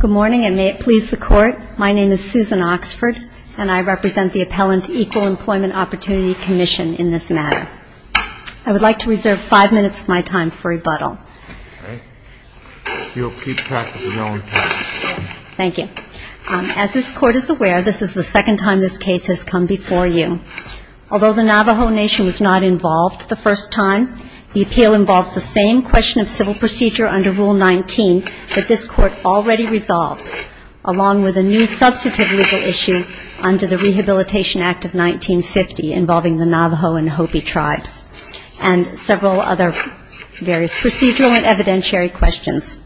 Good morning, and may it please the Court, my name is Susan Oxford, and I represent the Appellant Equal Employment Opportunity Commission in this matter. I would like to reserve five minutes of my time for rebuttal. Thank you. As this Court is aware, this is the second time this case has come before you. Although the Navajo Nation was not involved the first time, the appeal involves the same question of civil procedure under Rule 19 that this Court already resolved, along with a new substantive legal issue under the Rehabilitation Act of 1950 involving the Navajo and Hopi Tribes, and several other various procedural and evidentiary questions.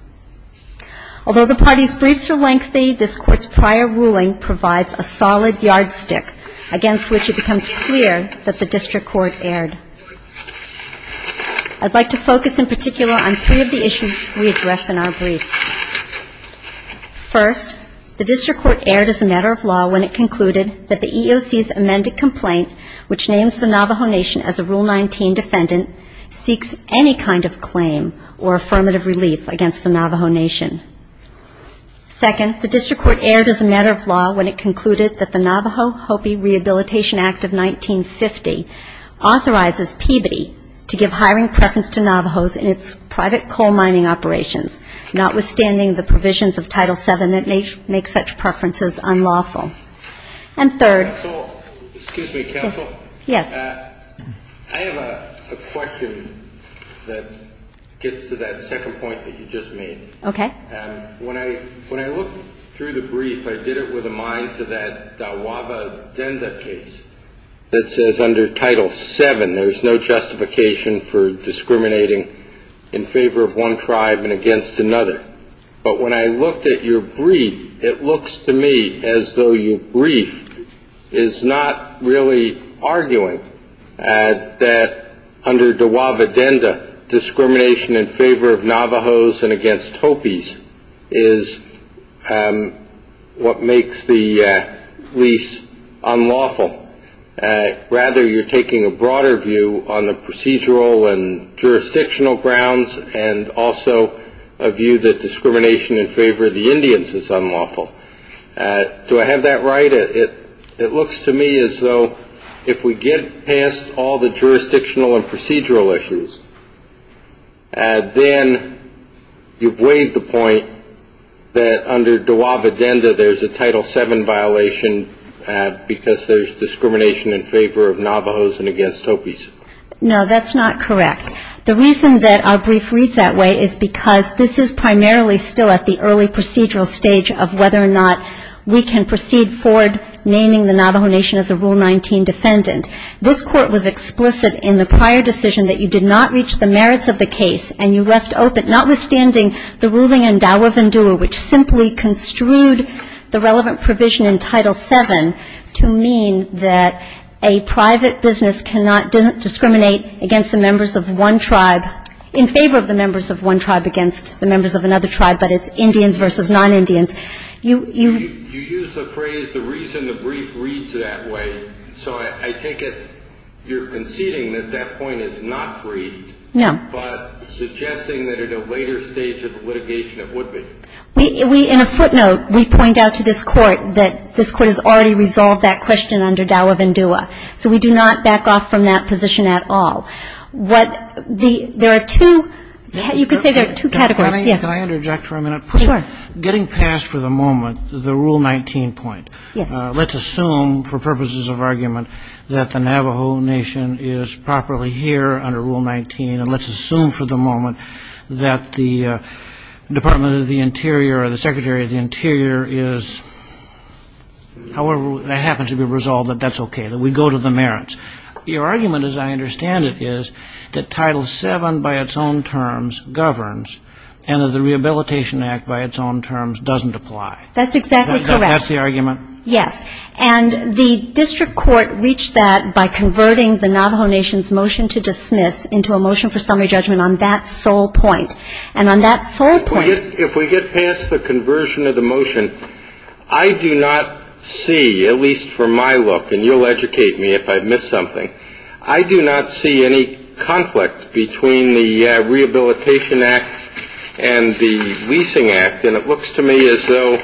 Although the parties' briefs are lengthy, this Court's prior ruling provides a solid yardstick against which it becomes clear that the District Court erred. I would like to focus in particular on three of the issues we addressed in our briefs. First, the District Court erred as a matter of law when it concluded that the EEOC's amended complaint, which names the Navajo Nation as a Rule 19 defendant, seeks any kind of claim or affirmative relief against the Navajo Nation. Second, the District Court erred as a matter of law when it concluded that the Navajo-Hopi Rehabilitation Act of 1950 authorizes PB to give hiring preference to Navajos in its private coal mining operations, notwithstanding the provisions of Title VII that make such preferences unlawful. And third- Excuse me, Counsel. Yes. I have a question that gets to that second point that you just made. Okay. When I looked through the brief, I did it with a mind to that Dawaaba Denda piece that says under Title VII, there is no justification for discriminating in favor of one tribe and against another. But when I looked at your brief, it looks to me as though your brief is not really arguing that under Dawaaba Denda, discrimination in favor of Navajos and against Hopis is what makes the lease unlawful. Rather, you're taking a broader view on the procedural and jurisdictional grounds and also a view that discrimination in favor of the Indians is unlawful. Do I have that right? It looks to me as though if we get past all the jurisdictional and procedural issues, then you've waived the point that under Dawaaba Denda, there's a Title VII violation because there's discrimination in favor of Navajos and against Hopis. No, that's not correct. The reason that our brief reads that way is because this is primarily still at the early procedural stage of whether or not we can proceed forward naming the Navajo Nation as a Rule 19 defendant. This court was explicit in the prior decision that you did not reach the merits of the case and you left open, notwithstanding the ruling in Dawaaba Denda, which simply construed the relevant provision in Title VII to mean that a private business cannot discriminate against the members of one tribe in favor of the members of one tribe against the members of another tribe, which is non-Indians. You use the phrase, the reason the brief reads that way, so I take it you're conceding that that point is not briefed, but suggesting that at a later stage of litigation it would be. In a footnote, we point out to this court that this court has already resolved that question under Dawaaba Denda, so we do not back off from that position at all. There are two, you could say there are two categories. Can I interject for a minute? Getting past for the moment the Rule 19 point, let's assume for purposes of argument that the Navajo Nation is properly here under Rule 19 and let's assume for the moment that the Department of the Interior or the Secretary of the Interior is, however that happens to be resolved, that that's okay, that we go to the merits. Your argument, as I understand it, is that Title VII by its own terms governs and that the Rehabilitation Act by its own terms doesn't apply. That's exactly correct. That's the argument? Yes. And the district court reached that by converting the Navajo Nation's motion to dismiss into a motion for summary judgment on that sole point. And on that sole point... If we get past the conversion of the motion, I do not see, at least from my look, and you'll educate me if I miss something, I do not see any conflict between the Rehabilitation Act and the Leasing Act, and it looks to me as though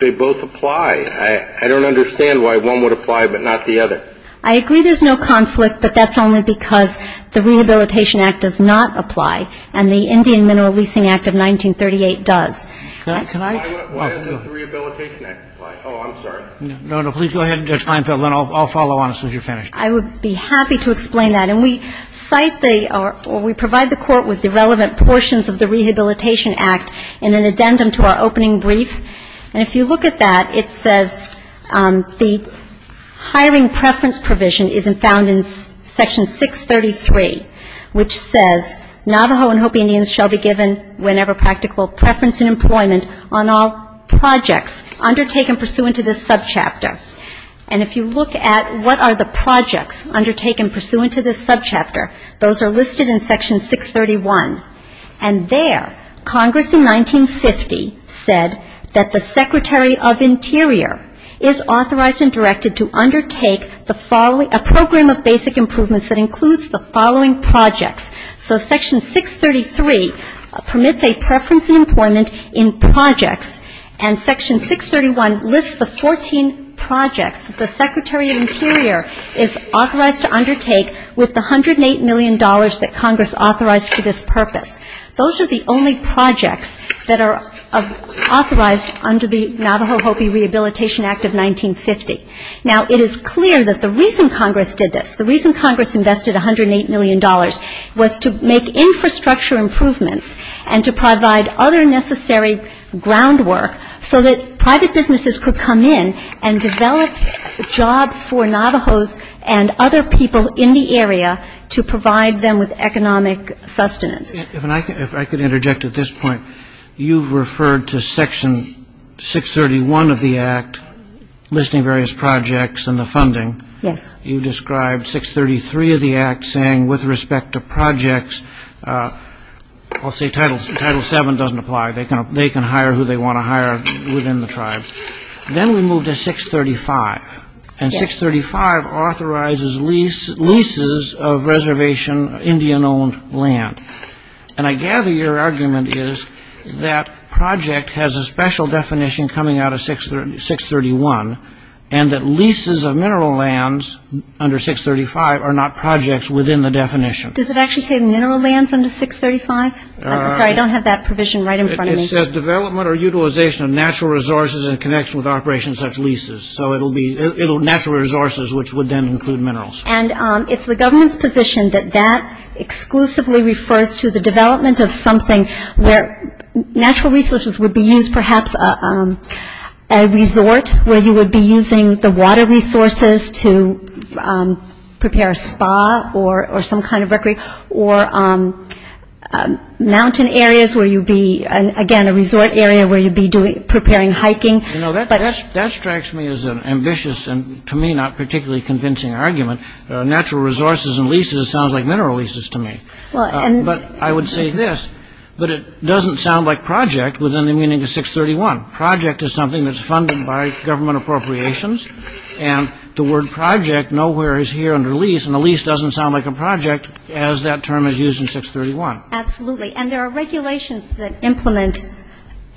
they both apply. I don't understand why one would apply but not the other. I agree there's no conflict, but that's only because the Rehabilitation Act does not apply and the Indian Mineral Leasing Act of 1938 does. Can I... Why isn't the Rehabilitation Act applied? Oh, I'm sorry. No, no, please go ahead. I'll follow on as soon as you're finished. I would be happy to explain that. And we cite the, or we provide the court with the relevant portions of the Rehabilitation Act in an addendum to our opening brief, and if you look at that, it says the hiring preference provision is found in Section 633, which says, Navajo and Hopi Indians shall be given whenever practical preference in employment on all projects undertaken pursuant to this subchapter. And if you look at what are the projects undertaken pursuant to this subchapter, those are listed in Section 631. And there, Congress in 1950 said that the Secretary of Interior is authorized and directed to undertake the following, a program of basic improvements that includes the following projects. So, Section 633 permits a preference in employment in projects, and Section 631 lists the 14 projects the Secretary of Interior is authorized to undertake with the $108 million that Congress authorized for this purpose. Those are the only projects that are authorized under the Navajo-Hopi Rehabilitation Act of 1950. Now, it is clear that the reason Congress did this, the reason Congress invested $108 million, was to make infrastructure improvements and to provide other necessary groundwork so that private businesses could come in and develop jobs for Navajos and other people in the area to provide them with economic sustenance. If I could interject at this point, you've referred to Section 631 of the Act, listing various projects and the funding. You've described 633 of the Act saying, with respect to projects, I'll say Title 7 doesn't apply. They can hire who they want to hire within the tribe. Then we move to 635, and 635 authorizes leases of reservation Indian-owned land. And I gather your argument is that project has a special definition coming out of 631, and that leases of mineral lands under 635 are not projects within the definition. Does it actually say mineral lands under 635? I'm sorry, I don't have that provision right in front of me. It says development or utilization of natural resources in connection with operations such leases. So it'll be natural resources, which would then include minerals. And it's the government's position that that exclusively refers to the development of something where natural resources would be used, perhaps a resort where you would be using the water resources to prepare a spa or some kind of recreation, or mountain areas where you'd be, again, a resort area where you'd be preparing hiking. You know, that strikes me as an ambitious and, to me, not particularly convincing argument. Natural resources and leases sounds like mineral leases to me. But I would say this, that it doesn't sound like project within the meaning of 631. Project is something that's funded by government appropriations, and the word project nowhere is here under lease, and the lease doesn't sound like a project as that term is used in 631. Absolutely. And there are regulations that implement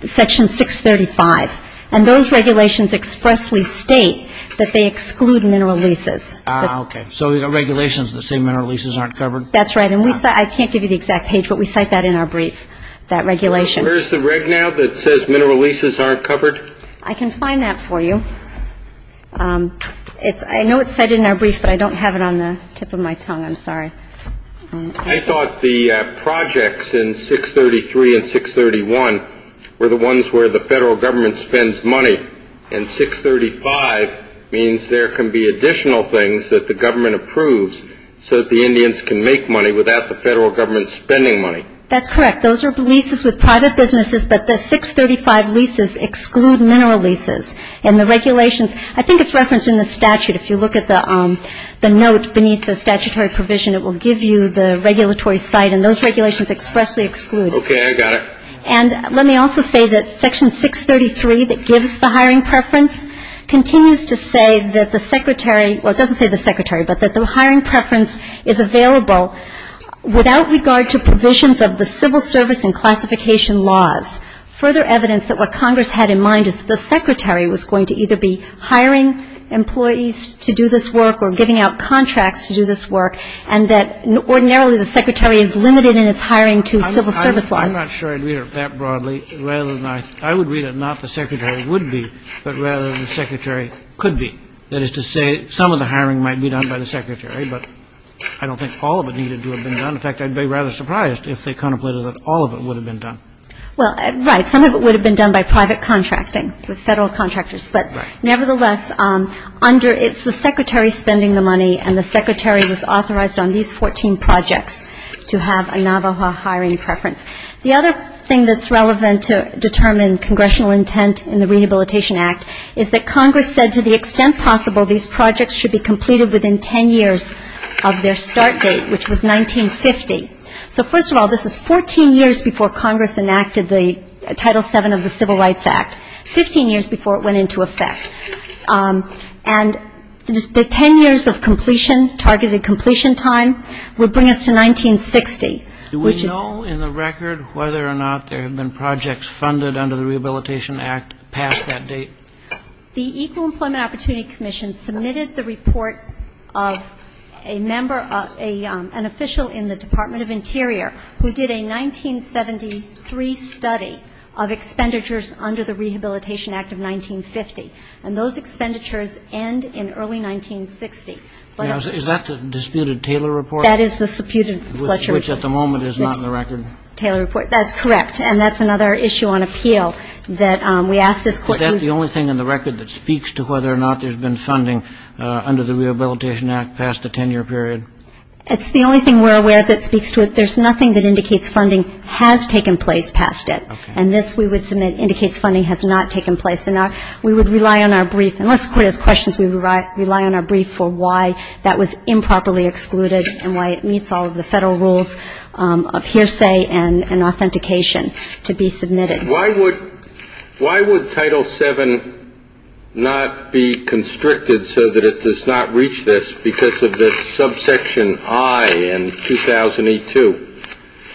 Section 635, and those regulations expressly state that they exclude mineral leases. Ah, OK. So the regulations that say mineral leases aren't covered? That's right. And I can't give you the exact page, but we cite that in our brief, that regulation. Where's the reg now that says mineral leases aren't covered? I can find that for you. I know it's said in our brief, but I don't have it on the tip of my tongue. I'm sorry. I thought the projects in 633 and 631 were the ones where the federal government spends money, and 635 means there can be additional things that the government approves so that the Indians can make money without the federal government spending money. That's correct. Those are leases with private businesses, but the 635 leases exclude mineral leases. And the regulations, I think it's referenced in the statute. If you look at the notes beneath the statutory provision, it will give you the regulatory site, and those regulations expressly exclude. OK, I got it. And let me also say that Section 633 that gives the hiring preference continues to say that the secretary or it doesn't say the secretary, but that the hiring preference is available without regard to provisions of the civil service and classification laws. Further evidence that Congress had in mind is the secretary was going to either be hiring employees to do this work or giving out contracts to do this work, and that ordinarily the secretary is limited in its hiring to civil service law. I'm not sure I'd read it that broadly. I would read it not the secretary would be, but rather than the secretary could be. That is to say, some of the hiring might be done by the secretary, but I don't think all of it needed to have been done. In fact, I'd be rather surprised if they contemplated that all of it would have been done. Well, right. Some of it would have been done by private contracting, the federal contractors. But nevertheless, under it's the secretary spending the money, and the secretary was authorized on these 14 projects to have a Navajo hiring preference. The other thing that's relevant to determine congressional intent in the Rehabilitation Act is that Congress said to the extent possible these projects should be completed within 10 years of their start date, which was 1950. So first of all, this was 14 years before Congress enacted the Title VII of the Civil Rights Act, 15 years before it went into effect. And the 10 years of completion, targeted completion time, would bring us to 1960. Do we know in the record whether or not there have been projects funded under the Rehabilitation Act past that date? The Equal Employment Opportunity Commission submitted the report of a member of an official in the Department of Interior who did a 1973 study of expenditures under the Rehabilitation Act of 1950. And those expenditures end in early 1960. Is that the disputed Taylor report? Which at the moment is not in the record. Taylor report. That's correct. And that's another issue on appeal that we ask this question. Is that the only thing in the record that speaks to whether or not there's been funding under the Rehabilitation Act past the 10-year period? It's the only thing we're aware of that speaks to it. There's nothing that indicates funding has taken place past it. And this we would submit indicates funding has not taken place. And we would rely on our brief, unless the court has questions, we would rely on our brief for why that was improperly excluded and why it meets all of the federal rules of hearsay and authentication to be submitted. Why would Title VII not be constricted so that it does not reach this because of the subsection I in 2008-2002?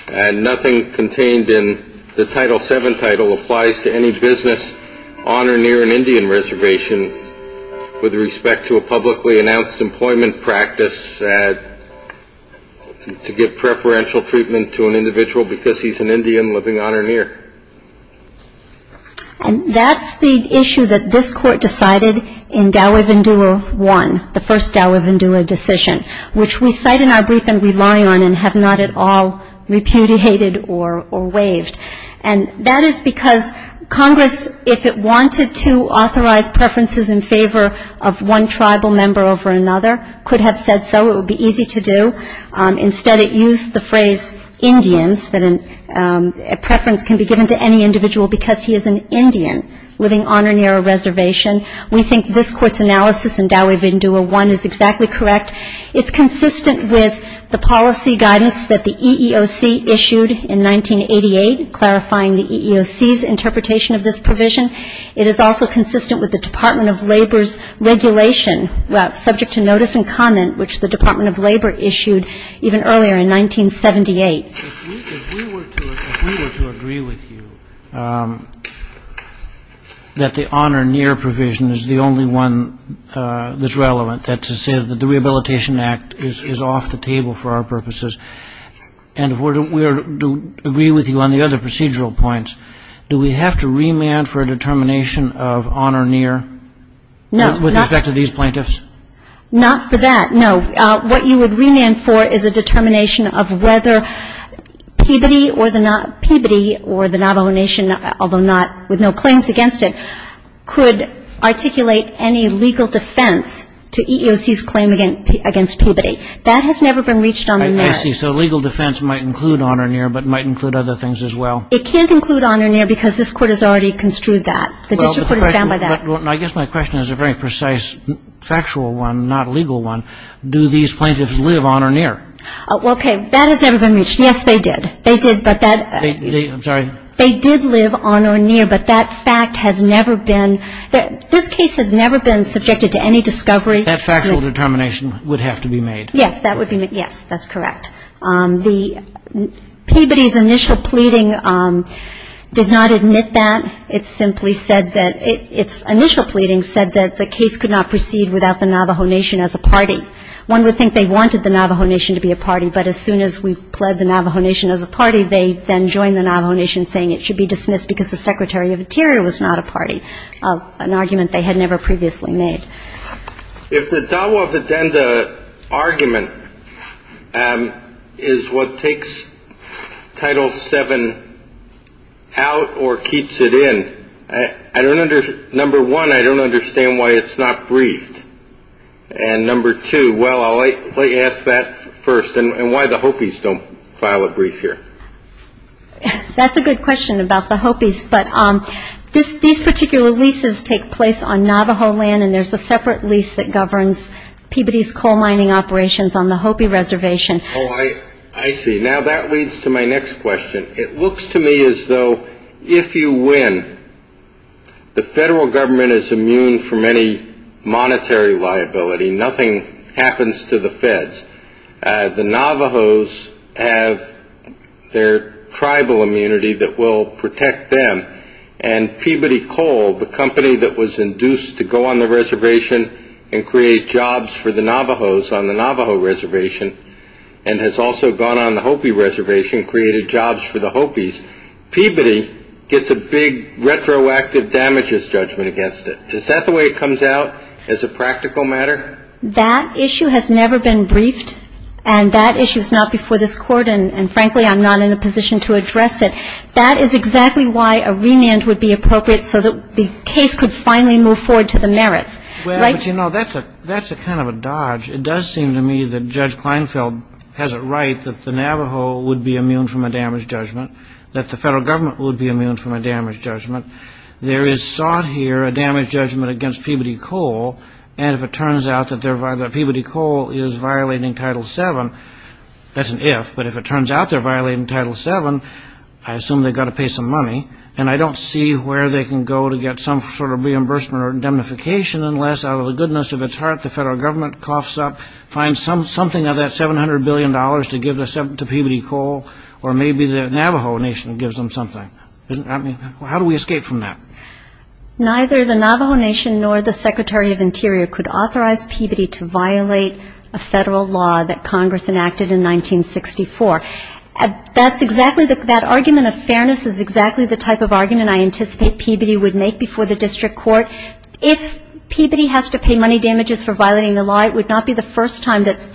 And nothing contained in the Title VII title applies to any business on or near an Indian reservation with respect to a publicly announced employment practice to give preferential treatment to an individual because he's an Indian living on or near. And that's the issue that this court decided in Gower-Vandula I, the first Gower-Vandula decision, which we cite in our brief and rely on and have not at all repudiated or waived. And that is because Congress, if it wanted to authorize preferences in favor of one tribal member over another, could have said so. It would be easy to do. Instead, it used the phrase Indians, that a preference can be given to any individual because he is an Indian living on or near a reservation. We think this court's analysis in Gower-Vandula I is exactly correct. It's consistent with the policy guidance that the EEOC issued in 1988, clarifying the EEOC's interpretation of this provision. It is also consistent with the Department of Labor's regulation, subject to notice and comment, which the Department of Labor issued even earlier in 1978. If we were to agree with you that the on or near provision is the only one that's relevant, that's to say that the Rehabilitation Act is off the table for our purposes, and if we were to agree with you on the other procedural points, do we have to remand for a determination of on or near with respect to these plaintiffs? Not for that, no. What you would remand for is a determination of whether Peabody or the Navajo Nation, although with no claims against it, could articulate any legal defense to EEOC's claim against Peabody. That has never been reached on the net. I see, so legal defense might include on or near, but might include other things as well. It can't include on or near because this court has already construed that. I guess my question is a very precise factual one, not a legal one. Do these plaintiffs live on or near? Okay, that has never been reached. Yes, they did. They did, but that fact has never been, this case has never been subjected to any discovery. That factual determination would have to be made. Yes, that's correct. Peabody's initial pleading did not admit that. Its initial pleading said that the case could not proceed without the Navajo Nation as a party. One would think they wanted the Navajo Nation to be a party, but as soon as we pled the Navajo Nation as a party, they then joined the Navajo Nation, saying it should be dismissed because the Secretary of Interior was not a party, an argument they had never previously made. If the Dawah Vedenda argument is what takes Title VII out or keeps it in, number one, I don't understand why it's not briefed. And number two, well, I'll let you ask that first, and why the Hopis don't file a brief here. That's a good question about the Hopis, but these particular leases take place on Navajo land, and there's a separate lease that governs Peabody's coal mining operations on the Hopi Reservation. I see. Now, that leads to my next question. It looks to me as though if you win, the federal government is immune from any monetary liability. Nothing happens to the feds. The Navajos have their tribal immunity that will protect them, and Peabody Coal, the company that was induced to go on the reservation and create jobs for the Navajos on the Navajo Reservation, and has also gone on the Hopi Reservation and created jobs for the Hopis, Peabody gets a big retroactive damages judgment against it. Is that the way it comes out as a practical matter? That issue has never been briefed, and that issue is not before this court, and frankly I'm not in a position to address it. That is exactly why a remand would be appropriate so that the case could finally move forward to the merits. Well, you know, that's a kind of a dodge. It does seem to me that Judge Kleinfeld has it right that the Navajo would be immune from a damage judgment, that the federal government would be immune from a damage judgment. There is sought here a damage judgment against Peabody Coal, and if it turns out that Peabody Coal is violating Title VII, that's an if, but if it turns out they're violating Title VII, I assume they've got to pay some money, and I don't see where they can go to get some sort of reimbursement or indemnification unless out of the goodness of its heart the federal government coughs up, finds something of that $700 billion to give to Peabody Coal, or maybe the Navajo Nation gives them something. How do we escape from that? Neither the Navajo Nation nor the Secretary of the Interior could authorize Peabody to violate a federal law that Congress enacted in 1964. That argument of fairness is exactly the type of argument I anticipate Peabody would make before the district court. If Peabody has to pay money damages for violating the law, it would not be the first time that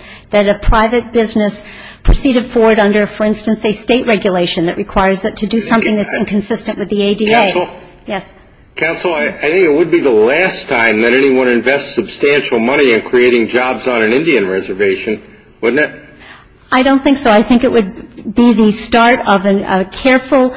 a private business proceeded forward under, for instance, a state regulation that requires it to do something that's inconsistent with the ADA. Counsel? Yes. Counsel, I think it would be the last time that anyone invests substantial money in creating jobs on an Indian reservation, wouldn't it? I don't think so. I think it would be the start of a careful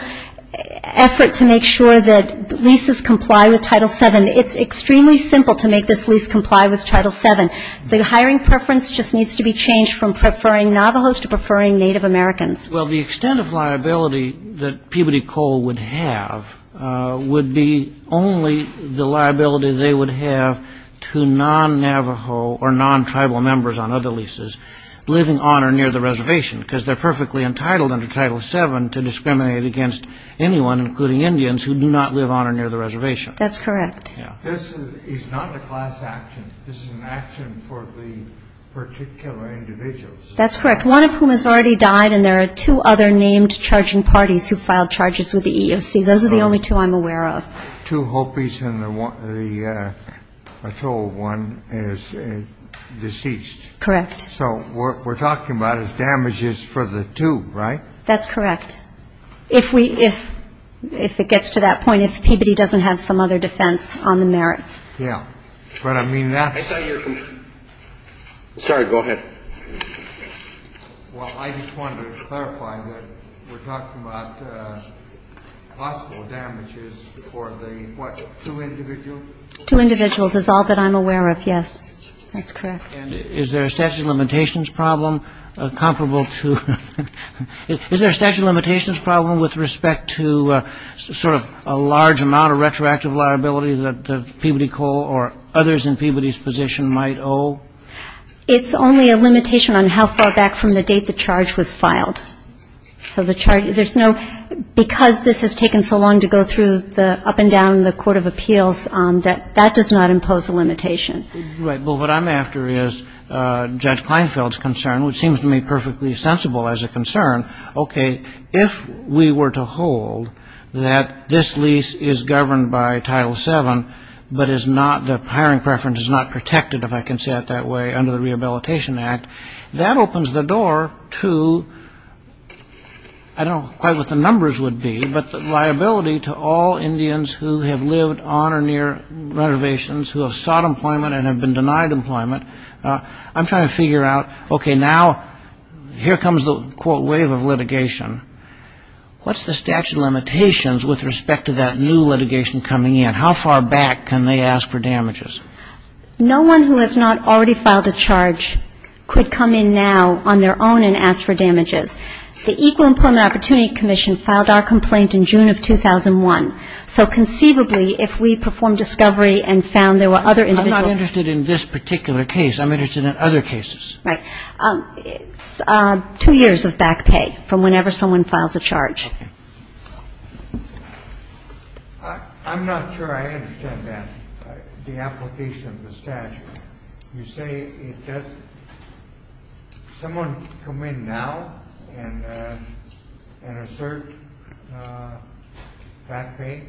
effort to make sure that leases comply with Title VII. It's extremely simple to make this lease comply with Title VII. The hiring preference just needs to be changed from preferring Navajos to preferring Native Americans. Well, the extent of liability that Peabody Coal would have would be only the liability they would have to non-Navajo or non-tribal members on other leases living on or near the reservation because they're perfectly entitled under Title VII to discriminate against anyone, including Indians, who do not live on or near the reservation. That's correct. This is not a class action. This is an action for the particular individuals. That's correct, one of whom has already died, and there are two other named charging parties who filed charges with the EEOC. Those are the only two I'm aware of. Two Hopis and a total of one is deceased. Correct. So what we're talking about is damages for the two, right? That's correct. If it gets to that point, it's Peabody doesn't have some other defense on the merits. Yeah, that's what I mean. Sorry, go ahead. Well, I just wanted to clarify that we're talking about possible damages for the, what, two individuals? Two individuals is all that I'm aware of, yes. That's correct. Is there a statute of limitations problem comparable to, is there a statute of limitations problem with respect to sort of a large amount of retroactive liability that Peabody Cole or others in Peabody's position might owe? It's only a limitation on how far back from the date the charge was filed. So the charge, there's no, because this has taken so long to go through the up and down the court of appeals, that does not impose a limitation. Right. Well, what I'm after is Judge Kleinfeld's concern, which seems to me perfectly sensible as a concern. Okay. If we were to hold that this lease is governed by Title VII but is not, the hiring preference is not protected, if I can say it that way, under the Rehabilitation Act, that opens the door to, I don't quite know what the numbers would be, but the liability to all Indians who have lived on or near reservations, who have sought employment and have been denied employment. I'm trying to figure out, okay, now here comes the, quote, wave of litigation. What's the statute of limitations with respect to that new litigation coming in? How far back can they ask for damages? No one who has not already filed a charge could come in now on their own and ask for damages. The Equal Employment Opportunity Commission filed our complaint in June of 2001. So conceivably, if we performed discovery and found there were other individuals. I'm not interested in this particular case. I'm interested in other cases. Right. Two years of back pay from whenever someone files a charge. I'm not sure I understand that, the application of the statute. You say it's just someone come in now and assert back pay?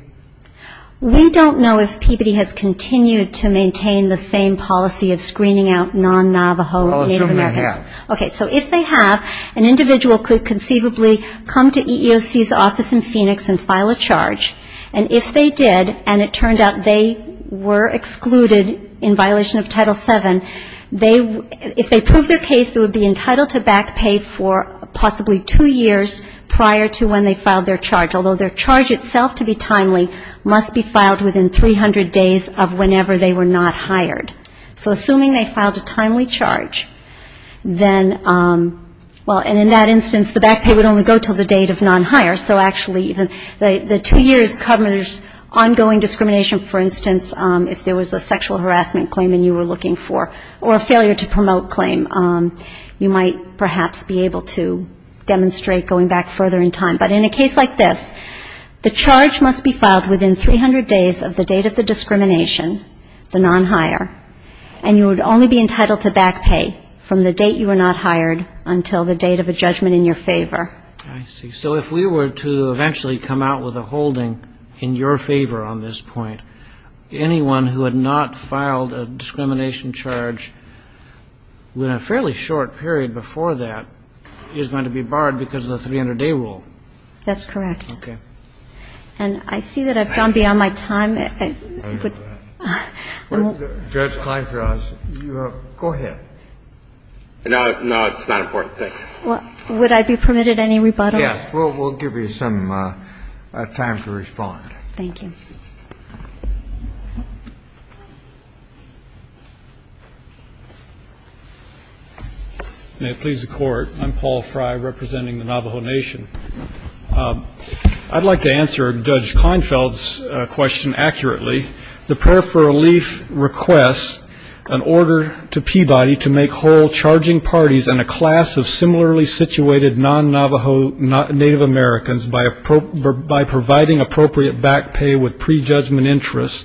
We don't know if PBD has continued to maintain the same policy of screening out non-Navajo Native Americans. I'll assume they have. Okay. So if they have, an individual could conceivably come to EEOC's office in Phoenix and file a charge. And if they did, and it turned out they were excluded in violation of Title VII, if they prove their case, they would be entitled to back pay for possibly two years prior to when they filed their charge. Although their charge itself, to be timely, must be filed within 300 days of whenever they were not hired. So assuming they filed a timely charge, then, well, and in that instance, the back pay would only go to the date of non-hire. So actually, the two years covers ongoing discrimination, for instance, if there was a sexual harassment claim and you were looking for, or a failure to promote claim, you might perhaps be able to demonstrate going back further in time. But in a case like this, the charge must be filed within 300 days of the date of the discrimination, the non-hire, and you would only be entitled to back pay from the date you were not hired until the date of a judgment in your favor. I see. So if we were to eventually come out with a holding in your favor on this point, anyone who had not filed a discrimination charge in a fairly short period before that is going to be barred because of the 300-day rule. That's correct. Okay. And I see that I've gone beyond my time. I know that. Judge Kleinfels, you have, go ahead. No, it's not important. Would I be permitted any rebuttal? Yes. We'll give you some time to respond. Thank you. May it please the Court. I'm Paul Fry representing the Navajo Nation. I'd like to answer Judge Kleinfels' question accurately. The prayer for relief requests an order to Peabody to make whole charging parties in a class of similarly situated non-Navajo Native Americans by providing appropriate back pay with prejudgment interest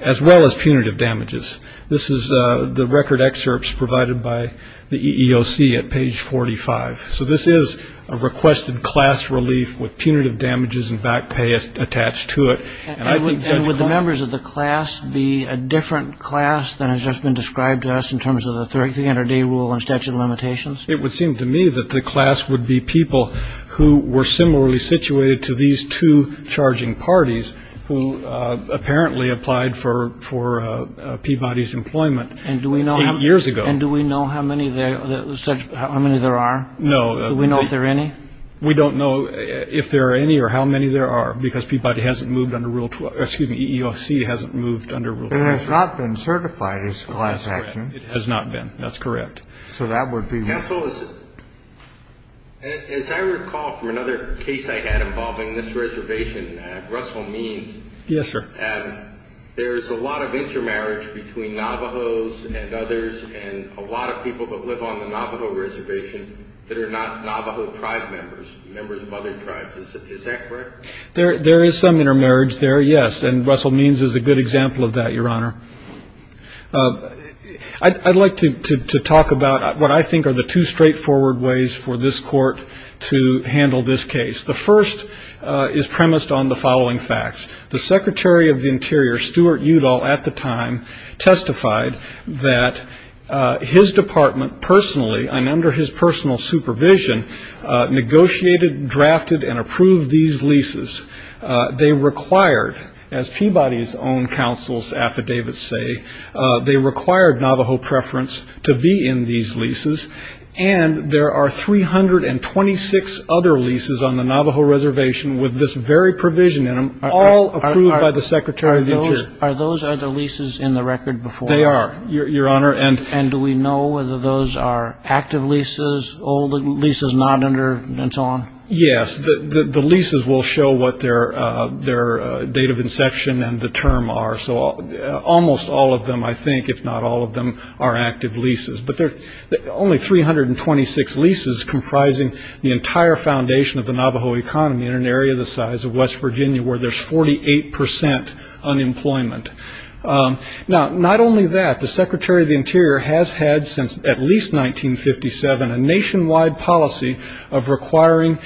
as well as punitive damages. This is the record excerpts provided by the EEOC at page 45. So this is a requested class relief with punitive damages and back pay attached to it. And would the members of the class be a different class than has just been described to us in terms of the 300-day rule and statute of limitations? It would seem to me that the class would be people who were similarly situated to these two charging parties who apparently applied for Peabody's employment eight years ago. And do we know how many there are? No. Do we know if there are any? We don't know if there are any or how many there are because Peabody hasn't moved under Rule 12. Excuse me, EEOC hasn't moved under Rule 12. It has not been certified as a class action. It has not been. That's correct. So that would be... Judge Kleinfels, as I recall from another case I had involving this reservation at Russell Means... Yes, sir. There's a lot of intermarriage between Navajos and others and a lot of people that live on the Navajo reservation that are not Navajo tribe members, members of other tribes. Is that correct? There is some intermarriage there, yes, and Russell Means is a good example of that, Your Honor. I'd like to talk about what I think are the two straightforward ways for this court to handle this case. The first is premised on the following facts. The Secretary of the Interior, Stuart Udall, at the time testified that his department personally and under his personal supervision negotiated, drafted, and approved these leases. They required, as Peabody's own counsel's affidavits say, they required Navajo preference to be in these leases, and there are 326 other leases on the Navajo reservation with this very provision in them, all approved by the Secretary of the Interior. Are those other leases in the record before? They are, Your Honor. And do we know whether those are active leases, old leases not under, and so on? Yes. The leases will show what their date of inception and the term are, so almost all of them, I think, if not all of them, are active leases. But there are only 326 leases comprising the entire foundation of the Navajo economy in an area the size of West Virginia where there's 48% unemployment. Now, not only that, the Secretary of the Interior has had since at least 1957 a nationwide policy of requiring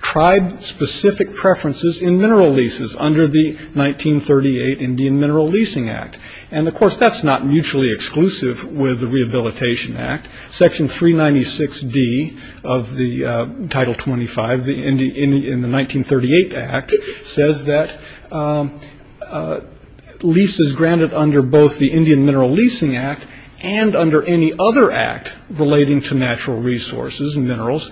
tribe-specific preferences in mineral leases under the 1938 Indian Mineral Leasing Act. And, of course, that's not mutually exclusive with the Rehabilitation Act. Section 396D of the Title 25 in the 1938 Act says that leases granted under both the Indian Mineral Leasing Act and under any other act relating to natural resources and minerals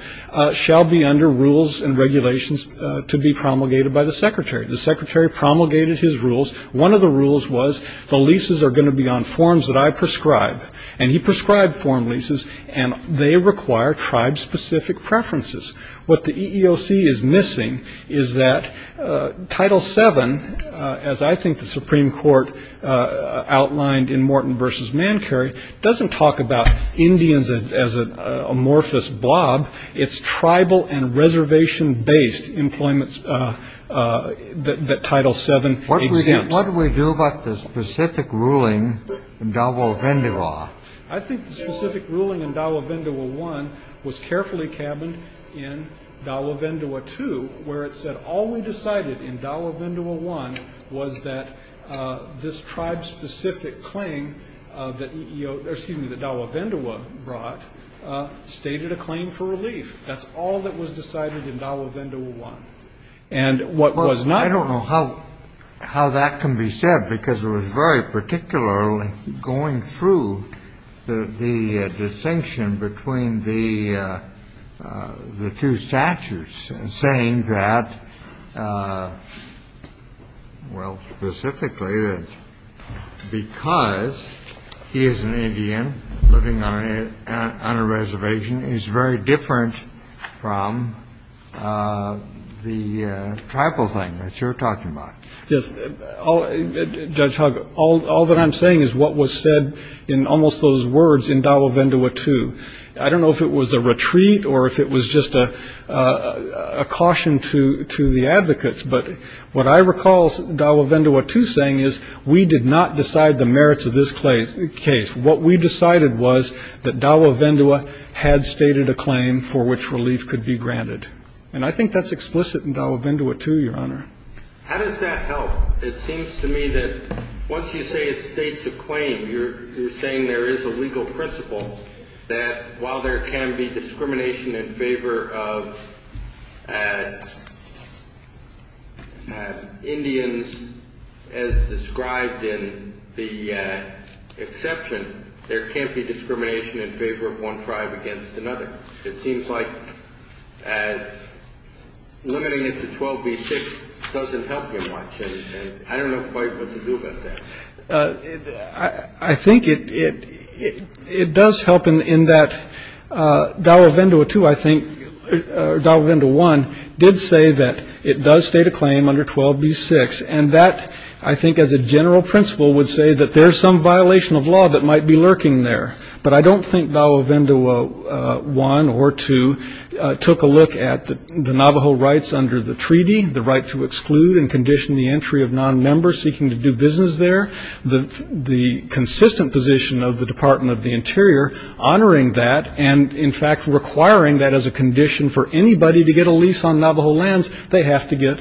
shall be under rules and regulations to be promulgated by the Secretary. The Secretary promulgated his rules. One of the rules was the leases are going to be on forms that I prescribe, and he prescribed form leases, and they require tribe-specific preferences. What the EEOC is missing is that Title VII, as I think the Supreme Court outlined in Morton v. Mancury, doesn't talk about Indians as an amorphous blob. It's tribal and reservation-based employment that Title VII exempts. What do we do about the specific ruling in Dowlavindua? I think the specific ruling in Dowlavindua I was carefully cabined in Dowlavindua II, where it said all we decided in Dowlavindua I was that this tribe-specific claim that Dowlavindua brought stated a claim for relief. That's all that was decided in Dowlavindua I. I don't know how that can be said, because it was very particular going through the distinction between the two statutes, saying that, well, specifically that because he is an Indian living on a reservation, he's very different from the tribal thing that you're talking about. Yes. Judge Hogg, all that I'm saying is what was said in almost those words in Dowlavindua II. I don't know if it was a retreat or if it was just a caution to the advocates, but what I recall Dowlavindua II saying is we did not decide the merits of this case. What we decided was that Dowlavindua had stated a claim for which relief could be granted. And I think that's explicit in Dowlavindua II, Your Honor. How does that help? It seems to me that once you say it states a claim, you're saying there is a legal principle that while there can be discrimination in favor of Indians as described in the exception, there can't be discrimination in favor of one tribe against another. It seems like limiting it to 12b-6 doesn't help very much, and I don't know quite what to do about that. I think it does help in that Dowlavindua II, I think, or Dowlavindua I did say that it does state a claim under 12b-6, and that I think as a general principle would say that there's some violation of law that might be lurking there. But I don't think Dowlavindua I or II took a look at the Navajo rights under the treaty, the right to exclude and condition the entry of non-members seeking to do business there, the consistent position of the Department of the Interior honoring that and, in fact, requiring that as a condition for anybody to get a lease on Navajo lands, they have to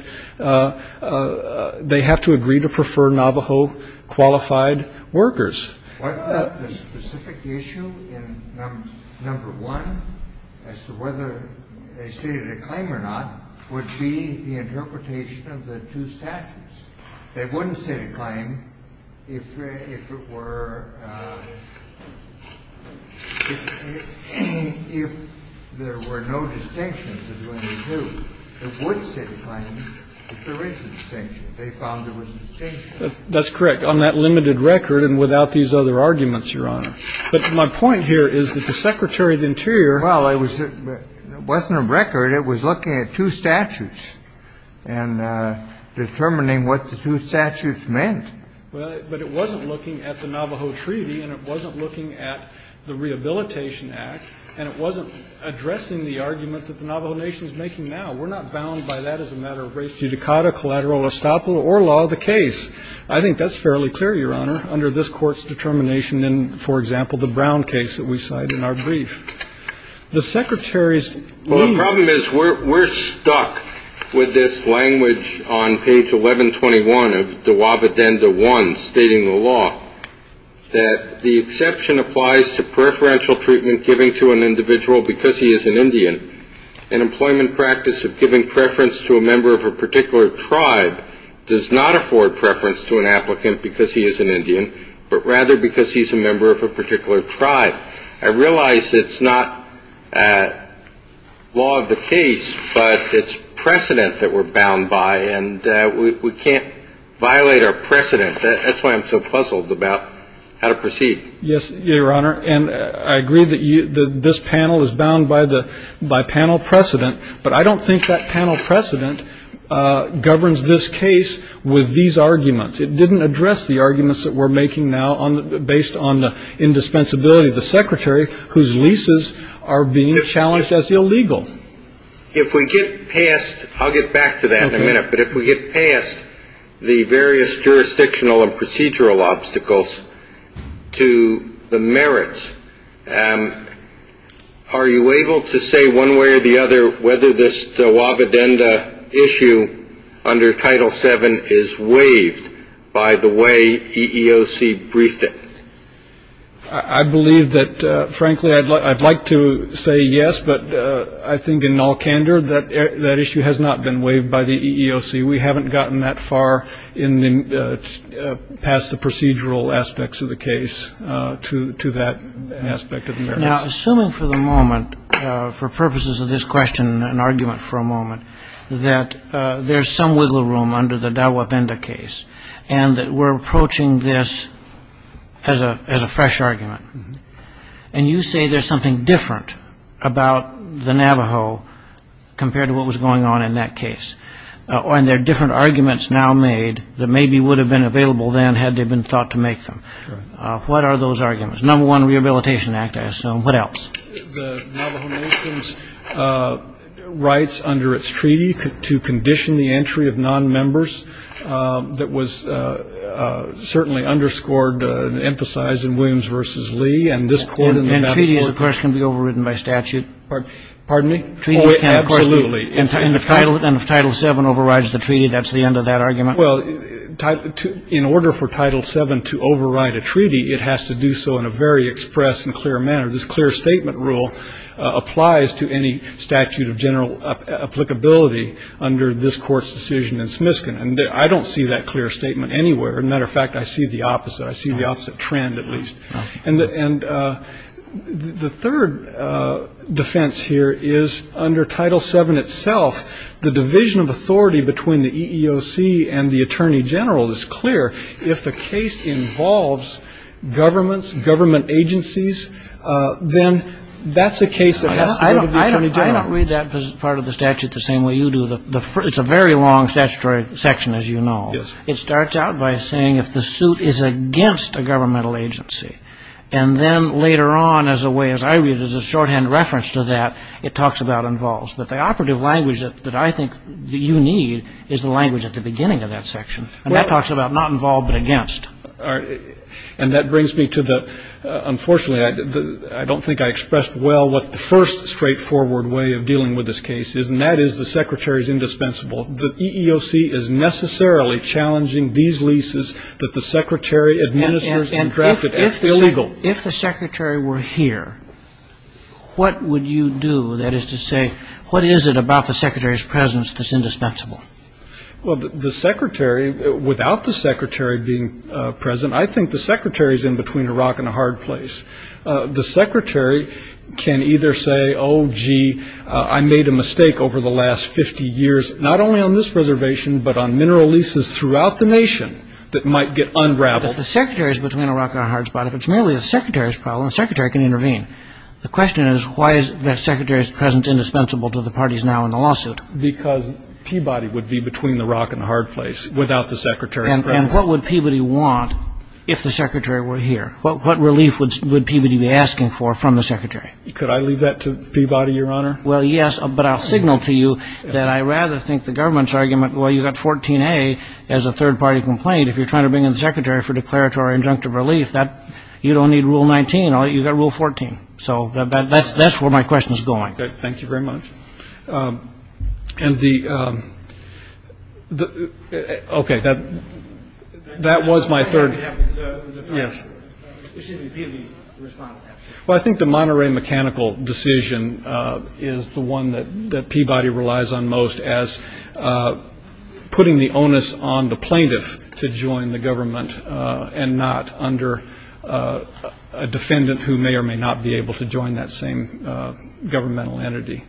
agree to prefer Navajo-qualified workers. What about the specific issue in number one as to whether they stated a claim or not would be the interpretation of the two statutes? They wouldn't state a claim if there were no distinctions between the two. They would state a claim if there is a distinction. They found there was a distinction. That's correct, on that limited record and without these other arguments, Your Honor. But my point here is that the Secretary of the Interior — Well, it wasn't a record. It was looking at two statutes and determining what the two statutes meant. Well, but it wasn't looking at the Navajo Treaty, and it wasn't looking at the Rehabilitation Act, and it wasn't addressing the argument that the Navajo Nation is making now. Well, we're not bound by that as a matter of res judicata, collateral estoppel, or law of the case. I think that's fairly clear, Your Honor, under this Court's determination in, for example, the Brown case that we cite in our brief. The Secretary's — Well, the problem is we're stuck with this language on page 1121 of the Waba Denda I stating the law, that the exception applies to preferential treatment given to an individual because he is an Indian. An employment practice of giving preference to a member of a particular tribe does not afford preference to an applicant because he is an Indian, but rather because he's a member of a particular tribe. I realize it's not law of the case, but it's precedent that we're bound by, and we can't violate our precedent. That's why I'm so puzzled about how to proceed. Yes, Your Honor, and I agree that this panel is bound by panel precedent, but I don't think that panel precedent governs this case with these arguments. It didn't address the arguments that we're making now based on the indispensability of the Secretary, whose leases are being challenged as illegal. If we get past — I'll get back to that in a minute — but if we get past the various jurisdictional and procedural obstacles to the merits, are you able to say one way or the other whether this Waba Denda issue under Title VII is waived by the way EEOC briefed it? I believe that, frankly, I'd like to say yes, but I think in all candor that that issue has not been waived by the EEOC. We haven't gotten that far past the procedural aspects of the case to that aspect of the merits. Now, assuming for the moment, for purposes of this question and argument for a moment, that there's some wiggle room under the Dawa Denda case and that we're approaching this as a fresh argument, and you say there's something different about the Navajo compared to what was going on in that case, and there are different arguments now made that maybe would have been available then had they been thought to make them. What are those arguments? Number one, Rehabilitation Act, I assume. What else? The Navajo Nation's rights under its treaty to condition the entry of non-members that was certainly underscored and emphasized in Williams v. Lee. And this court in Nevada said- And treaty, of course, can be overridden by statute. Pardon me? Treaty can't- Oh, absolutely. And if Title VII overrides the treaty, that's the end of that argument? Well, in order for Title VII to override a treaty, it has to do so in a very express and clear manner. This clear statement rule applies to any statute of general applicability under this court's decision in Smiskin. And I don't see that clear statement anywhere. As a matter of fact, I see the opposite. I see the opposite trend, at least. And the third defense here is under Title VII itself, the division of authority between the EEOC and the Attorney General is clear. If the case involves governments, government agencies, then that's a case that has to go to the Attorney General. I don't read that part of the statute the same way you do. It's a very long statutory section, as you know. It starts out by saying if the suit is against a governmental agency. And then later on, as I read, there's a shorthand reference to that. It talks about involves. But the operative language that I think you need is the language at the beginning of that section. And that talks about not involved but against. And that brings me to the-unfortunately, I don't think I expressed well what the first straightforward way of dealing with this case is. And that is the Secretary's indispensable. The EEOC is necessarily challenging these leases that the Secretary administers and drafted. It's illegal. If the Secretary were here, what would you do? That is to say, what is it about the Secretary's presence that's indispensable? Well, the Secretary, without the Secretary being present, I think the Secretary's in between a rock and a hard place. The Secretary can either say, oh, gee, I made a mistake over the last 50 years, not only on this reservation but on mineral leases throughout the nation that might get unraveled. If the Secretary's between a rock and a hard spot, if it's merely the Secretary's problem, the Secretary can intervene. The question is, why is the Secretary's presence indispensable to the parties now in the lawsuit? Because Peabody would be between a rock and a hard place without the Secretary. And what would Peabody want if the Secretary were here? What relief would Peabody be asking for from the Secretary? Could I leave that to Peabody, Your Honor? Well, yes, but I'll signal to you that I rather think the government's argument, well, you've got 14A as a third-party complaint. If you're trying to bring in the Secretary for declaratory or injunctive relief, you don't need Rule 19. You've got Rule 14. So that's where my question is going. Thank you very much. And the – okay, that was my third – Well, I think the Monterey mechanical decision is the one that Peabody relies on most as putting the onus on the plaintiff to join the government and not under a defendant who may or may not be able to join that same governmental entity.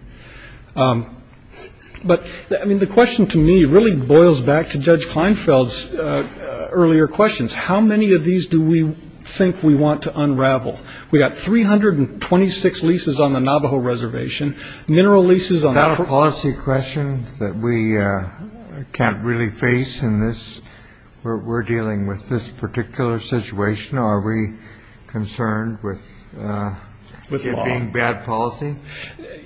But, I mean, the question to me really boils back to Judge Kleinfeld's earlier questions. How many of these do we think we want to unravel? We've got 326 leases on the Navajo Reservation, mineral leases on – Is this a policy question that we can't really face in this – we're dealing with this particular situation? Are we concerned with it being bad policy?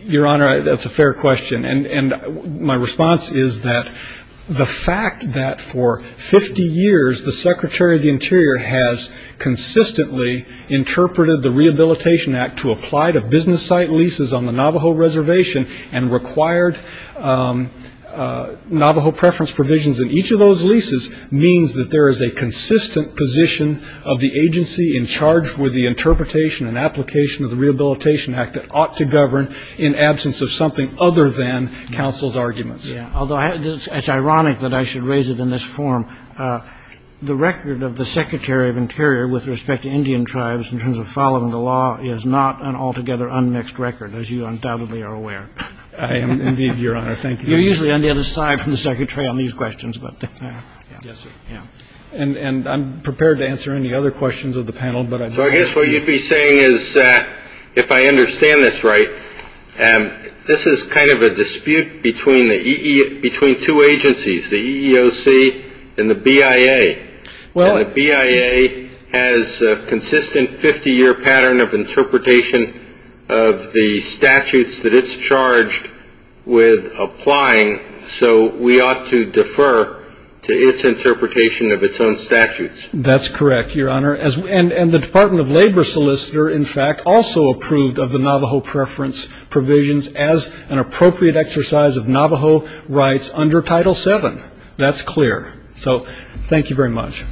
Your Honor, that's a fair question. And my response is that the fact that for 50 years the Secretary of the Interior has consistently interpreted the Rehabilitation Act to apply to business site leases on the Navajo Reservation and required Navajo preference provisions in each of those leases means that there is a consistent position of the agency in charge for the interpretation and application of the Rehabilitation Act that ought to govern in absence of something other than counsel's arguments. Yeah, although it's ironic that I should raise it in this form. The record of the Secretary of the Interior with respect to Indian tribes in terms of following the law is not an altogether unmixed record, as you undoubtedly are aware. Indeed, Your Honor, thank you. You're usually on the other side from the Secretary on these questions. And I'm prepared to answer any other questions of the panel. So I guess what you'd be saying is, if I understand this right, this is kind of a dispute between two agencies, the EEOC and the BIA. The BIA has a consistent 50-year pattern of interpretation of the statutes that it's charged with applying, so we ought to defer to its interpretation of its own statutes. That's correct, Your Honor. And the Department of Labor solicitor, in fact, also approved of the Navajo preference provisions as an appropriate exercise of Navajo rights under Title VII. That's clear. So thank you very much.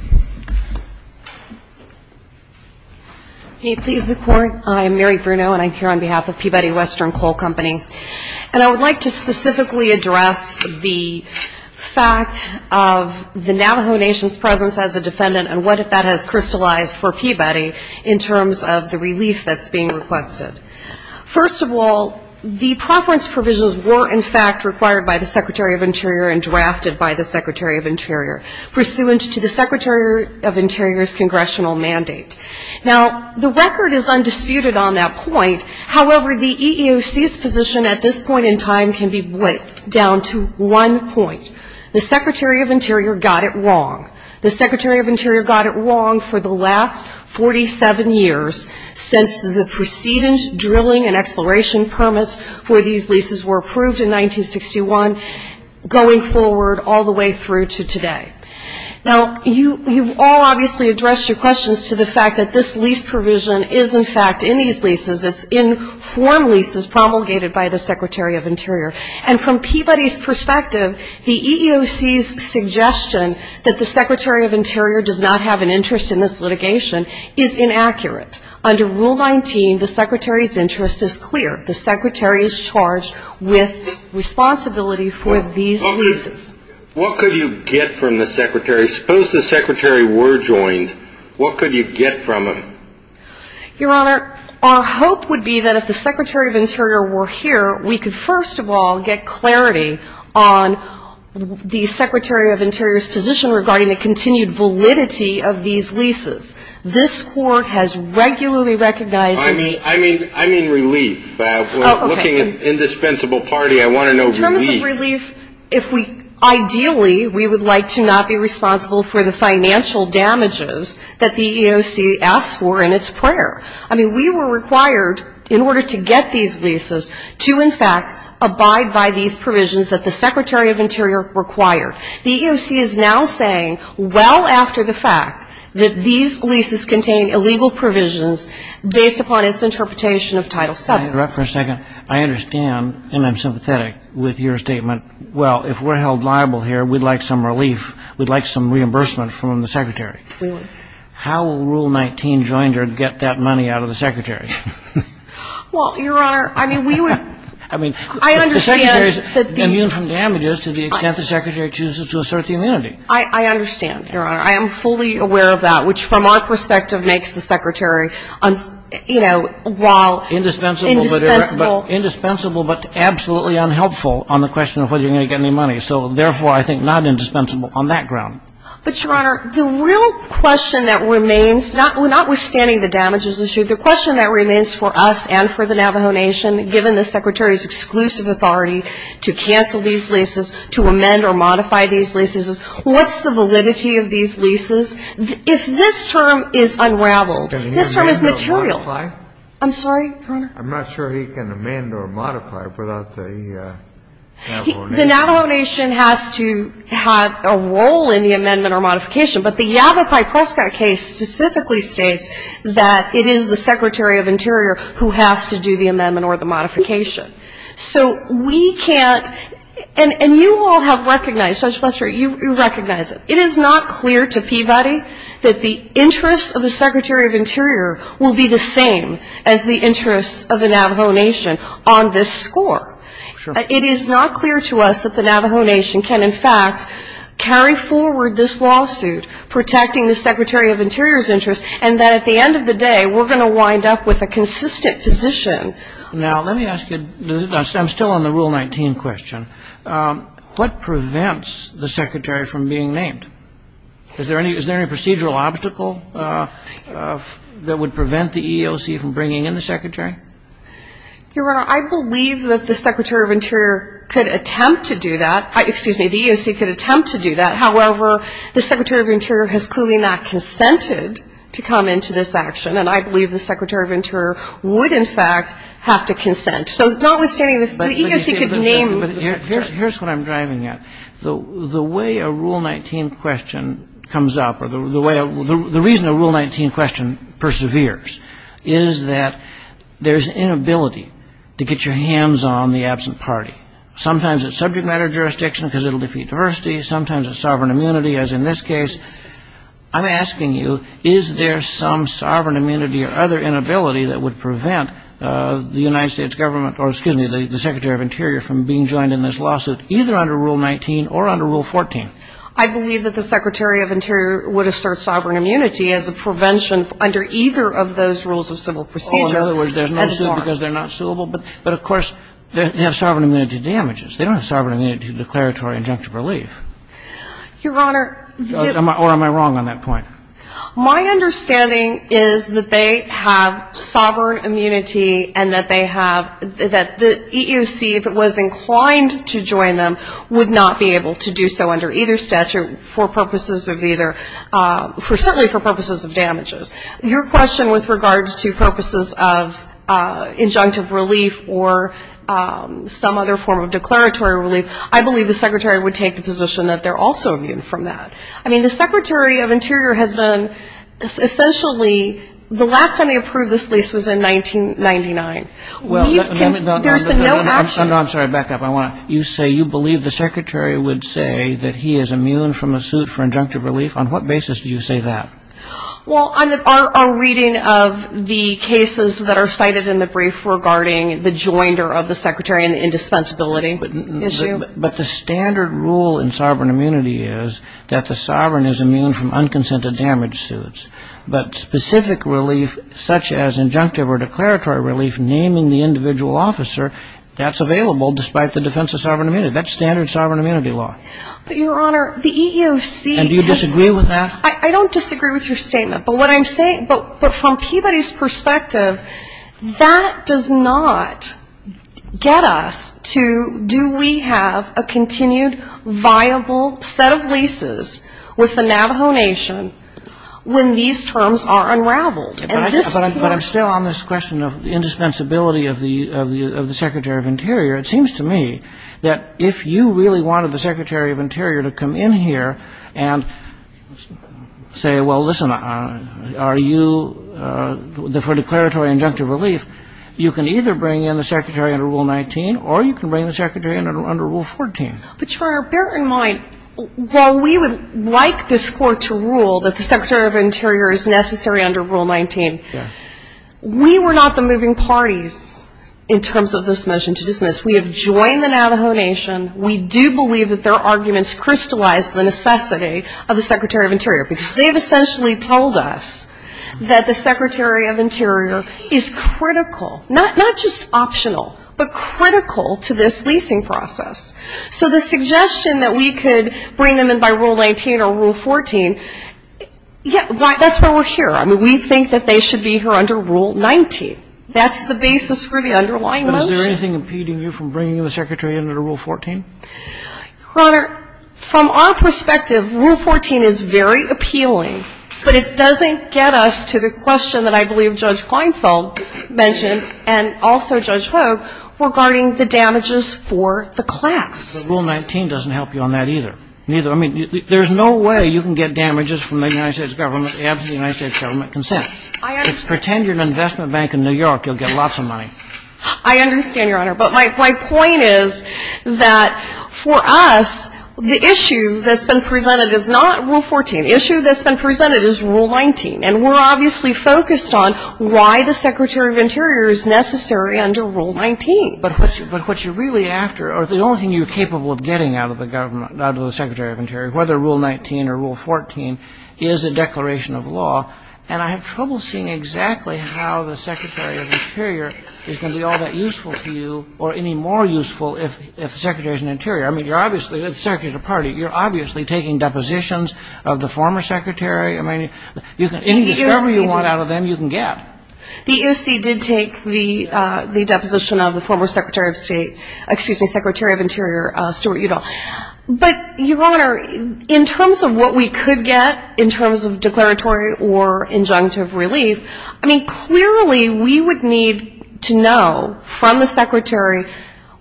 Can you please record? I'm Mary Bruno, and I'm here on behalf of Peabody Western Coal Company. And I would like to specifically address the fact of the Navajo Nation's presence as a defendant and what that has crystallized for Peabody in terms of the release that's being requested. First of all, the preference provisions were, in fact, required by the Secretary of Interior and drafted by the Secretary of Interior pursuant to the Secretary of Interior's congressional mandate. Now, the record is undisputed on that point. However, the EEOC's position at this point in time can be braced down to one point. The Secretary of Interior got it wrong. The Secretary of Interior got it wrong for the last 47 years since the preceding drilling and exploration permits for these leases were approved in 1961 going forward all the way through to today. Now, you've all obviously addressed your questions to the fact that this lease provision is, in fact, in these leases. It's in form leases promulgated by the Secretary of Interior. And from Peabody's perspective, the EEOC's suggestion that the Secretary of Interior does not have an interest in this litigation is inaccurate. Under Rule 19, the Secretary's interest is clear. The Secretary is charged with responsibility for these leases. What could you get from the Secretary? Suppose the Secretary were joined. What could you get from him? Your Honor, our hope would be that if the Secretary of Interior were here, we could, first of all, get clarity on the Secretary of Interior's position regarding the continued validity of these leases. This Court has regularly recognized the... I mean relief. We're looking at an indispensable party. I want to know relief. Ideally, we would like to not be responsible for the financial damages that the EEOC asks for in its prayer. I mean, we were required in order to get these leases to, in fact, abide by these provisions that the Secretary of Interior required. The EEOC is now saying well after the fact that these leases contain illegal provisions based upon its interpretation of Title VII. Let me interrupt for a second. I understand, and I'm sympathetic with your statement. Well, if we're held liable here, we'd like some relief. We'd like some reimbursement from the Secretary. How will Rule 19 join to get that money out of the Secretary? Well, Your Honor, I mean, we would... I mean, the Secretary is immune from damages to the extent the Secretary chooses to assert the immunity. I understand, Your Honor. I am fully aware of that, which from our perspective makes the Secretary, you know, while... Indispensable. Indispensable, but absolutely unhelpful on the question of whether you're going to get any money. So, therefore, I think not indispensable on that ground. But, Your Honor, the real question that remains, notwithstanding the damages issue, the question that remains for us and for the Navajo Nation, given the Secretary's exclusive authority to cancel these leases, to amend or modify these leases, is what's the validity of these leases? If this term is unraveled, this term is material. I'm sorry, Your Honor? I'm not sure he can amend or modify without the Navajo Nation. The Navajo Nation has to have a role in the amendment or modification. But the Yavapai Prescott case specifically states that it is the Secretary of Interior who has to do the amendment or the modification. So, we can't... And you all have recognized, I'm sure you recognize it. It is not clear to Peabody that the interest of the Secretary of Interior will be the same as the interest of the Navajo Nation on this score. It is not clear to us that the Navajo Nation can, in fact, carry forward this lawsuit protecting the Secretary of Interior's interest and that, at the end of the day, we're going to wind up with a consistent position. Now, let me ask you, I'm still on the Rule 19 question. What prevents the Secretary from being named? Is there any procedural obstacle that would prevent the EEOC from bringing in the Secretary? Your Honor, I believe that the Secretary of Interior could attempt to do that. Excuse me, the EEOC could attempt to do that. However, the Secretary of Interior has clearly not consented to come into this action. And I believe the Secretary of Interior would, in fact, have to consent. So, notwithstanding this, the EEOC could name... Here's what I'm driving at. The way a Rule 19 question comes up or the way... The reason a Rule 19 question perseveres is that there's inability to get your hands on the absent party. Sometimes it's subject matter jurisdiction because it'll defeat diversity. Sometimes it's sovereign immunity, as in this case. I'm asking you, is there some sovereign immunity or other inability that would prevent the United States government, or excuse me, the Secretary of Interior from being joined in this lawsuit, either under Rule 19 or under Rule 14? I believe that the Secretary of Interior would assert sovereign immunity as a prevention under either of those rules of civil procedure. Oh, in other words, they're not suable because they're not suable? But, of course, they have sovereign immunity damages. They don't have sovereign immunity declaratory injunctive relief. Your Honor... Or am I wrong on that point? My understanding is that they have sovereign immunity and that they have... that the EEOC, if it was inclined to join them, would not be able to do so under either statute for purposes of either... certainly for purposes of damages. Your question with regards to focuses of injunctive relief or some other form of declaratory relief, I believe the Secretary would take the position that they're also immune from that. I mean, the Secretary of Interior has been essentially... the last time he approved this lease was in 1999. Well, no, I'm sorry, back up. You say you believe the Secretary would say that he is immune from a suit for injunctive relief? On what basis do you say that? Well, our reading of the cases that are cited in the brief regarding the joinder of the Secretary and the indispensability issue... but the standard rule in sovereign immunity is that the sovereign is immune from unconsented damage suits. But specific relief such as injunctive or declaratory relief, naming the individual officer, that's available despite the defense of sovereign immunity. That's standard sovereign immunity law. But, Your Honor, the EEOC... And do you disagree with that? I don't disagree with your statement, but what I'm saying... But from Peabody's perspective, that does not get us to... do we have a continued viable set of leases with the Navajo Nation when these terms are unraveled? But I'm still on this question of indispensability of the Secretary of Interior. It seems to me that if you really wanted the Secretary of Interior to come in here and say, well, listen, are you... for declaratory and injunctive relief, you can either bring in the Secretary under Rule 19 or you can bring the Secretary under Rule 14. But, Your Honor, bear in mind, while we would like this Court to rule that the Secretary of Interior is necessary under Rule 19, we were not the moving party in terms of this motion to dismiss. We have joined the Navajo Nation. We do believe that their arguments crystallize the necessity of the Secretary of Interior because they've essentially told us that the Secretary of Interior is critical, not just optional, but critical to this leasing process. So the suggestion that we could bring them in by Rule 19 or Rule 14, that's why we're here. I mean, we think that they should be here under Rule 19. That's the basis for the underlying motion. Is there anything impeding you from bringing in the Secretary under Rule 14? Your Honor, from our perspective, Rule 14 is very appealing, but it doesn't get us to the question that I believe Judge Kleinfeld mentioned and also Judge Ho regarding the damages for the class. Rule 19 doesn't help you on that either. I mean, there's no way you can get damages from the United States government after the United States government consents. Pretend you're an investment bank in New York, you'll get lots of money. I understand, Your Honor. But my point is that for us, the issue that's been presented is not Rule 14. The issue that's been presented is Rule 19, and we're obviously focused on why the Secretary of Interior is necessary under Rule 19. But what you're really after or the only thing you're capable of getting out of the government, out of the Secretary of Interior, whether Rule 19 or Rule 14, is a declaration of law, and I have trouble seeing exactly how the Secretary of Interior is going to be all that useful to you or any more useful if the Secretary is an Interior. I mean, you're obviously, the Secretary of the Party, you're obviously taking depositions of the former Secretary. I mean, any discovery you want out of them, you can get. The USC did take the deposition of the former Secretary of State, excuse me, Secretary of Interior, Stuart Udall. But, Your Honor, in terms of what we could get in terms of declaratory or injunctive relief, I mean, clearly we would need to know from the Secretary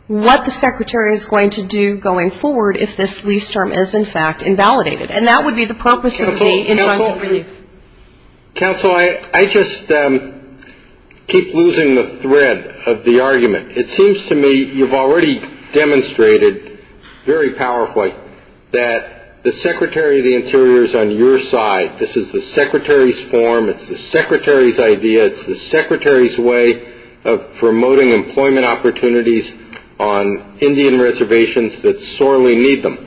what the Secretary is going to do going forward if this lease term is, in fact, invalidated. And that would be the purpose of the injunctive relief. Counsel, I just keep losing the thread of the argument. It seems to me you've already demonstrated very powerfully that the Secretary of the Interior is on your side. This is the Secretary's form. It's the Secretary's idea. It's the Secretary's way of promoting employment opportunities on Indian reservations that sorely need them.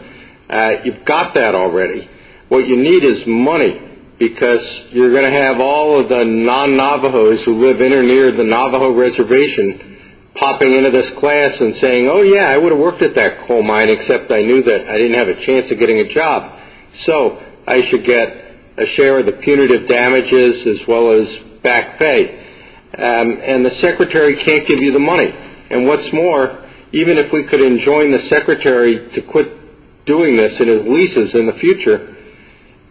You've got that already. What you need is money because you're going to have all of the non-Navajos who live in near the Navajo reservation popping into this class and saying, oh, yeah, I would have worked at that coal mine, except I knew that I didn't have a chance of getting a job, so I should get a share of the punitive damages as well as back pay. And the Secretary can't give you the money. And what's more, even if we could enjoin the Secretary to quit doing this in his leases in the future,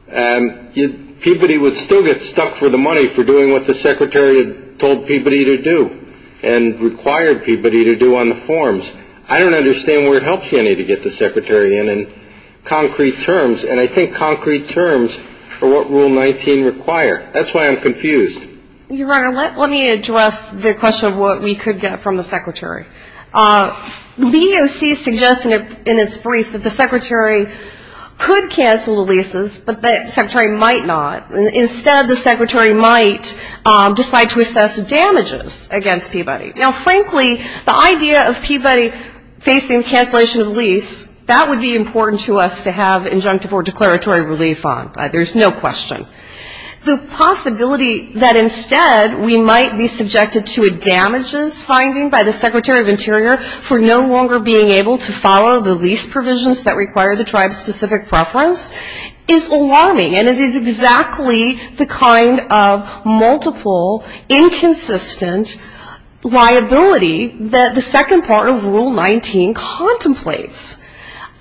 Peabody would still get stuck for the money for doing what the Secretary had told Peabody to do and required Peabody to do on the forms. I don't understand where it helps you any to get the Secretary in on concrete terms, and I think concrete terms are what Rule 19 require. That's why I'm confused. Your Honor, let me address the question of what we could get from the Secretary. The EEOC suggests in its brief that the Secretary could cancel the leases, but the Secretary might not. Instead, the Secretary might decide to assess the damages against Peabody. Now, frankly, the idea of Peabody facing cancellation of the lease, that would be important to us to have injunctive or declaratory relief on. There's no question. The possibility that instead we might be subjected to a damages finding by the Secretary of Interior for no longer being able to follow the lease provisions that require the tribe's specific preference is alarming, and it is exactly the kind of multiple, inconsistent liability that the second part of Rule 19 contemplates.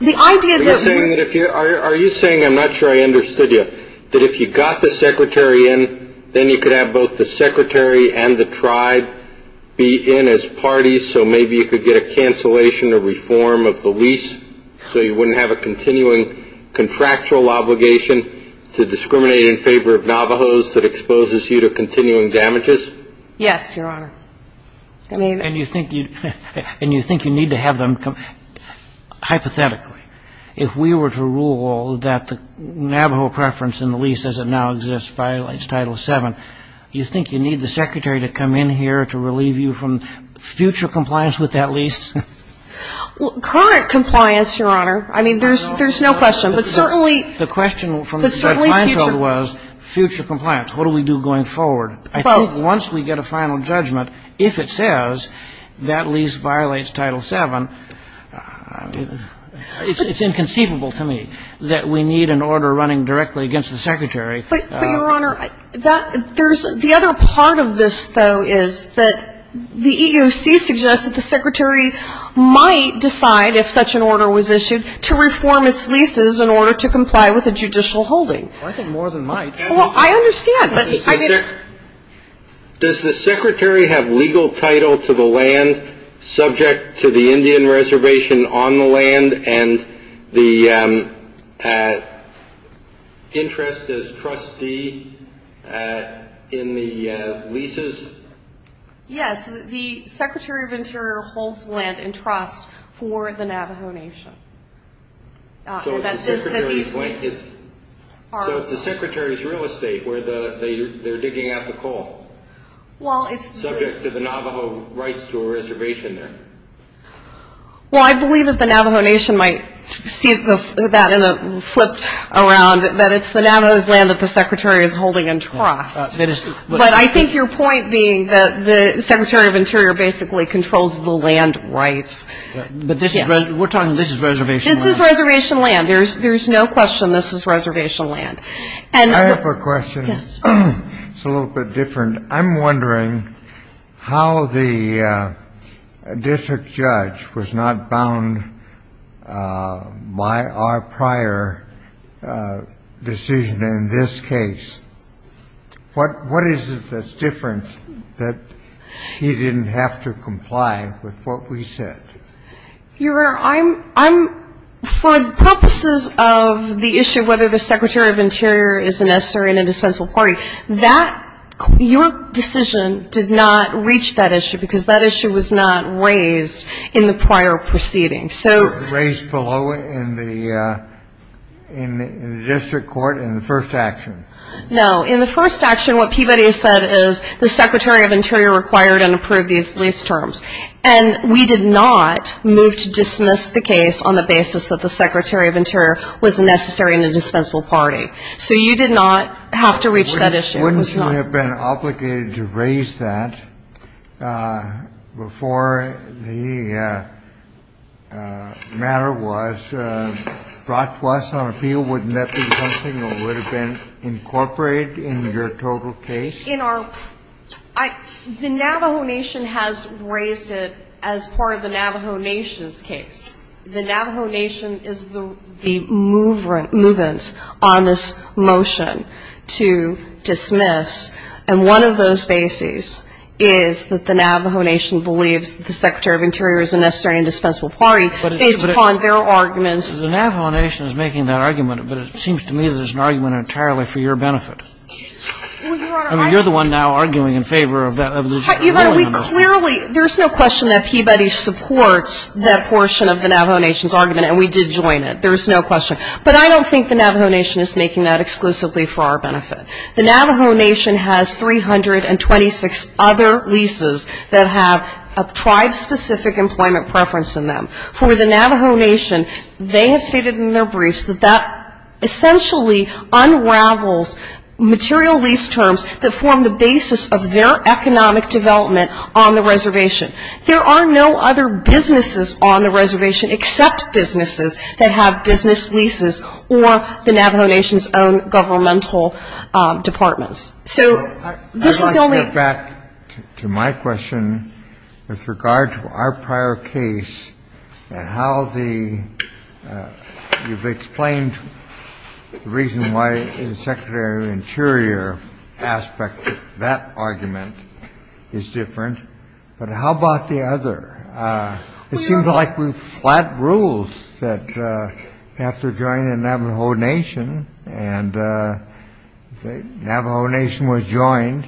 Are you saying, I'm not sure I understood you, that if you got the Secretary in, then you could have both the Secretary and the tribe be in as parties, so maybe you could get a cancellation or reform of the lease so you wouldn't have a continuing contractual obligation to discriminate in favor of Navajos that exposes you to continuing damages? Yes, Your Honor. And you think you need to have them, hypothetically, if we were to rule that the Navajo preference in the lease, as it now exists, violates Title VII, do you think you need the Secretary to come in here to relieve you from future compliance with that lease? Current compliance, Your Honor. I mean, there's no question, but certainly future. The question from my side was, future compliance, what do we do going forward? I think once we get a final judgment, if it says that lease violates Title VII, it's inconceivable to me that we need an order running directly against the Secretary. But, Your Honor, the other part of this, though, is that the EEOC suggests that the Secretary might decide, if such an order was issued, to reform its leases in order to comply with the judicial holding. I think more than might. Well, I understand. Does the Secretary have legal title to the land subject to the Indian Reservation on the land and the interest as trustee in the leases? Yes, the Secretary of the Interior holds the land in trust for the Navajo Nation. So the Secretary's real estate, where they're digging out the coal, is subject to the Navajo rights to a reservation then? Well, I believe that the Navajo Nation might see that in a flip around, that it's the Navajo's land that the Secretary is holding in trust. But I think your point being that the Secretary of the Interior basically controls the land rights. We're talking this is reservation land. This is reservation land. There's no question this is reservation land. I have a question. It's a little bit different. I'm wondering how the district judge was not bound by our prior decision in this case. What is it that's different that he didn't have to comply with what we said? Your Honor, for purposes of the issue of whether the Secretary of the Interior is necessary in a dispensable party, your decision did not reach that issue because that issue was not raised in the prior proceedings. It was raised below in the district court in the first action. No. In the first action, what Peabody said is the Secretary of Interior required and approved these lease terms. And we did not move to dismiss the case on the basis that the Secretary of Interior was necessary in a dispensable party. So you did not have to reach that issue. Your Honor, wouldn't you have been obligated to raise that before the matter was brought to us on appeal? Wouldn't that be something that would have been incorporated in your total case? The Navajo Nation has raised it as part of the Navajo Nation's case. The Navajo Nation is the movement on this motion to dismiss. And one of those bases is that the Navajo Nation believes the Secretary of Interior is necessary in a dispensable party. It's upon their arguments. The Navajo Nation is making that argument, but it seems to me that it's an argument entirely for your benefit. I mean, you're the one now arguing in favor of the decision. Your Honor, there's no question that Peabody supports that portion of the Navajo Nation's argument, and we did join it. There's no question. But I don't think the Navajo Nation is making that exclusively for our benefit. The Navajo Nation has 326 other leases that have a tribe-specific employment preference in them. For the Navajo Nation, they have stated in their briefs that that essentially unravels material lease terms that form the basis of their economic development on the reservation. There are no other businesses on the reservation except businesses that have business leases or the Navajo Nation's own governmental departments. I'd like to get back to my question with regard to our prior case and how you've explained the reason why the Secretary of Interior aspect of that argument is different. But how about the other? It seems like we've flat rules that after joining the Navajo Nation and the Navajo Nation was joined,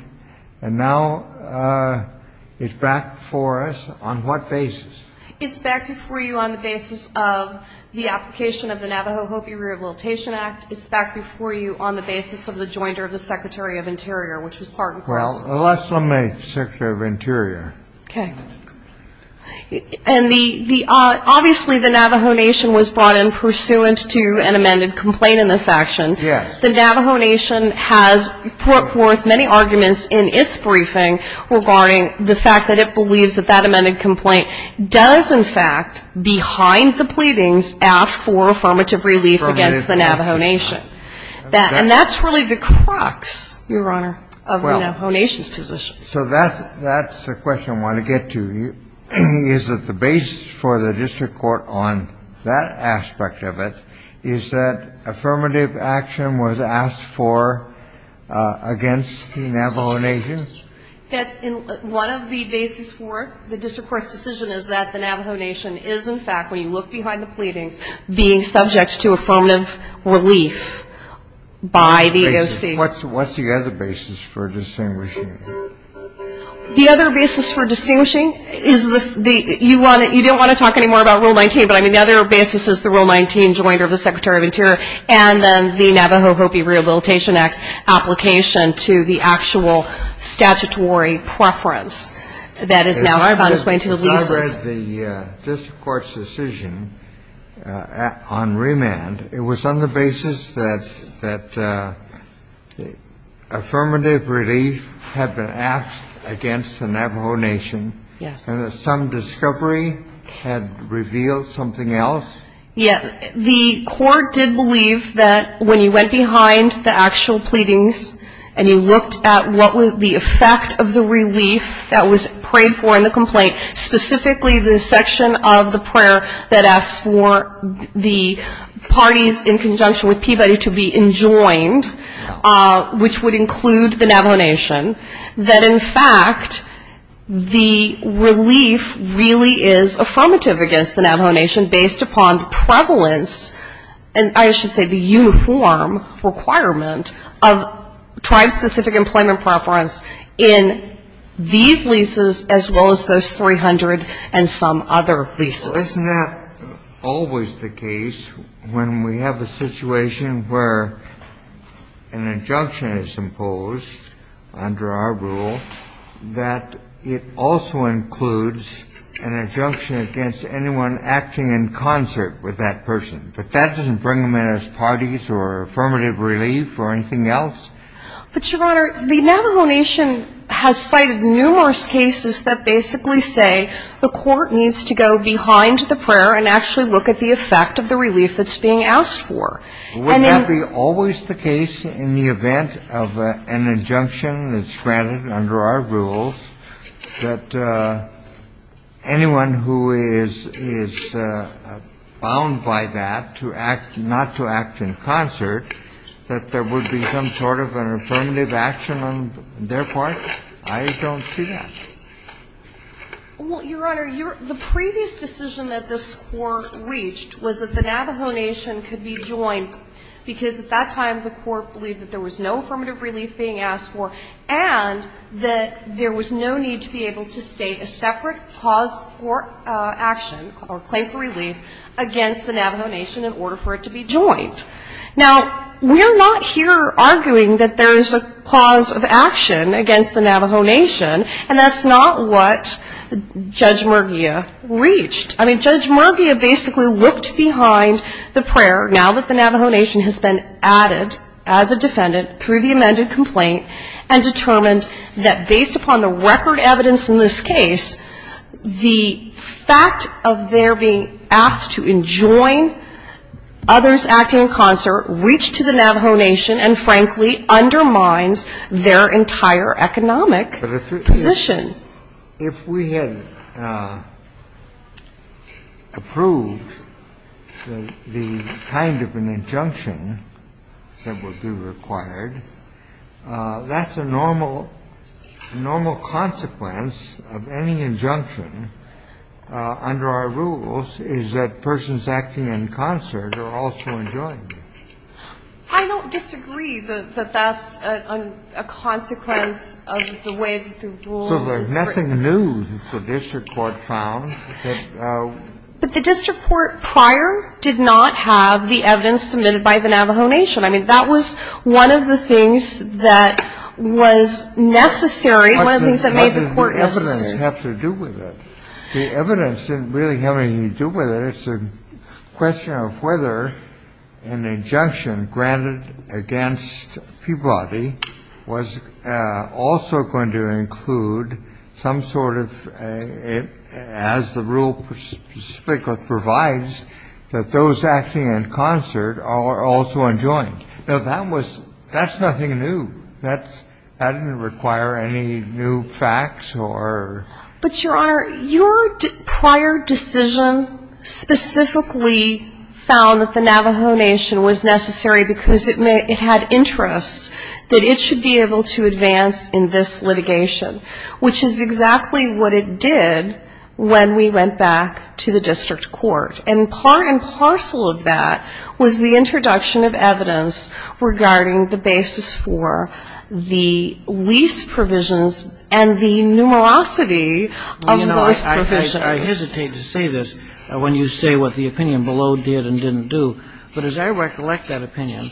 and now it's back before us on what basis? It's back before you on the basis of the application of the Navajo Hopi Rehabilitation Act. It's back before you on the basis of the jointer of the Secretary of Interior, which is part and parcel. Well, unless I'm a Secretary of Interior. Okay. And obviously the Navajo Nation was brought in pursuant to an amended complaint in this action. Yes. The Navajo Nation has put forth many arguments in its briefing regarding the fact that it believes that that amended complaint does, in fact, behind the pleadings ask for affirmative relief against the Navajo Nation. And that's really the crux, Your Honor, of the Navajo Nation's position. So that's a question I want to get to. Is it the basis for the district court on that aspect of it is that affirmative action was asked for against the Navajo Nation? Yes. One of the basis for the district court's decision is that the Navajo Nation is, in fact, when you look behind the pleadings, being subject to affirmative relief by the agency. What's the other basis for distinguishing? The other basis for distinguishing is you don't want to talk anymore about Rule 19, but the other basis is the Rule 19 jointer of the Secretary of Interior and the Navajo Hopi Rehabilitation Act application to the actual statutory preference. So that is now our bond is going to leave the district court's decision on remand. It was on the basis that affirmative relief had been asked against the Navajo Nation. Yes. Some discovery had revealed something else. Yes. The court did believe that when you went behind the actual pleadings and you looked at what was the effect of the relief that was prayed for in the complaint, specifically the section of the prayer that asked for the parties in conjunction with Peabody to be enjoined, which would include the Navajo Nation, that, in fact, the relief really is affirmative against the Navajo Nation based upon prevalence And I should say the uniform requirement of tribe-specific employment preference in these leases as well as those 300 and some other leases. Well, isn't that always the case when we have a situation where an injunction is imposed under our rule that it also includes an injunction against anyone acting in concert with that person? But that doesn't bring them in as parties or affirmative relief or anything else. But, Your Honor, the Navajo Nation has fighted numerous cases that basically say the court needs to go behind the prayer and actually look at the effect of the relief that's being asked for. Wouldn't that be always the case in the event of an injunction that's granted under our rules that anyone who is bound by that not to act in concert, that there would be some sort of an affirmative action on their part? I don't see that. Well, Your Honor, the previous decision that this court reached was that the Navajo Nation could be joined because at that time the court believed that there was no affirmative relief being asked for and that there was no need to be able to state a separate clause for action or claim for relief against the Navajo Nation in order for it to be joined. Now, we're not here arguing that there's a clause of action against the Navajo Nation and that's not what Judge Murguia reached. I mean, Judge Murguia basically looked behind the prayer, now that the Navajo Nation has been added as a defendant through the amended complaint and determined that based upon the record evidence in this case, the fact of their being asked to join others acting in concert reached to the Navajo Nation and frankly undermines their entire economic position. If we had approved the kind of an injunction that would be required, that's a normal consequence of any injunction under our rules, is that persons acting in concert are also joined. I don't disagree that that's a consequence of the way this is ruled. So there's nothing new that the district court found. But the district court prior did not have the evidence submitted by the Navajo Nation. I mean, that was one of the things that was necessary. What does the evidence have to do with it? The evidence didn't really have anything to do with it. It's a question of whether an injunction granted against Peabody was also going to include some sort of, as the rule provides, that those acting in concert are also enjoined. That's nothing new. That didn't require any new facts. But, Your Honor, your prior decision specifically found that the Navajo Nation was necessary because it had interest that it should be able to advance in this litigation, which is exactly what it did when we went back to the district court. And part and parcel of that was the introduction of evidence regarding the basis for the lease provisions and the numerosity of those provisions. I hesitate to say this when you say what the opinion below did and didn't do. But as I recollect that opinion,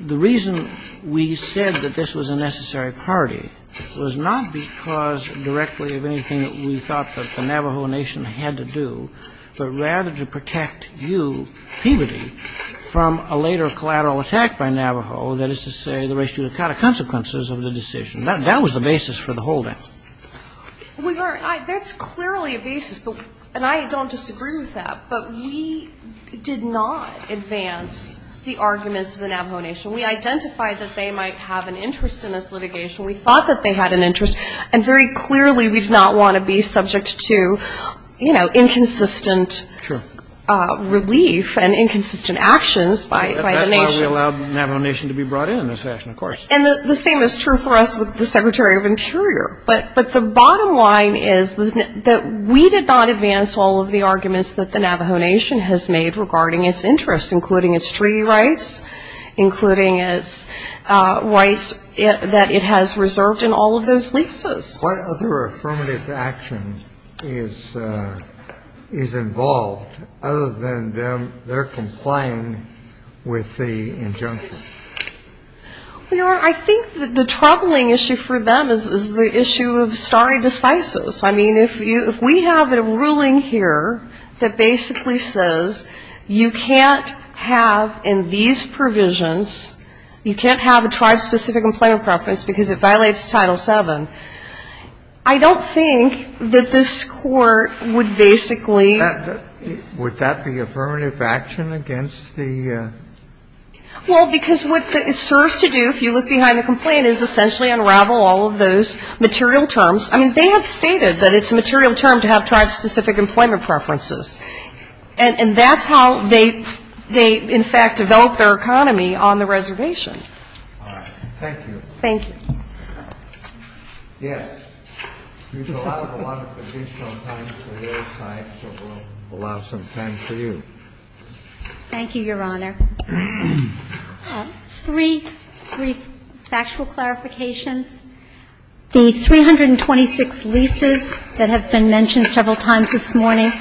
the reason we said that this was a necessary party was not because directly of anything that we thought that the Navajo Nation had to do, but rather to protect you, Peabody, from a later collateral attack by Navajo, that is to say the rest of the consequences of the decision. That was the basis for the whole thing. That's clearly a basis, and I don't disagree with that, but we did not advance the arguments of the Navajo Nation. We identified that they might have an interest in this litigation. We thought that they had an interest, and very clearly we did not want to be subject to, you know, inconsistent relief and inconsistent actions by the nation. That's why we allowed the Navajo Nation to be brought in on this action, of course. And the same is true for us with the Secretary of Interior. But the bottom line is that we did not advance all of the arguments that the Navajo Nation has made regarding its interests, including its treaty rights, including its rights that it has reserved in all of those leases. What other affirmative action is involved other than their complying with the injunction? You know, I think the troubling issue for them is the issue of sorry deficits. I mean, if we have a ruling here that basically says you can't have in these provisions, you can't have a tribe-specific employment preference because it violates Title VII, I don't think that this court would basically – Would that be affirmative action against the – Well, because what it serves to do, if you look behind the complaint, is essentially unravel all of those material terms. I mean, they have stated that it's a material term to have tribe-specific employment preferences, and that's how they, in fact, develop their economy on the reservation. All right. Thank you. Thank you. Yes. We still have a lot of time for you. Thank you, Your Honor. Three factual clarifications. The 326 leases that have been mentioned several times this morning,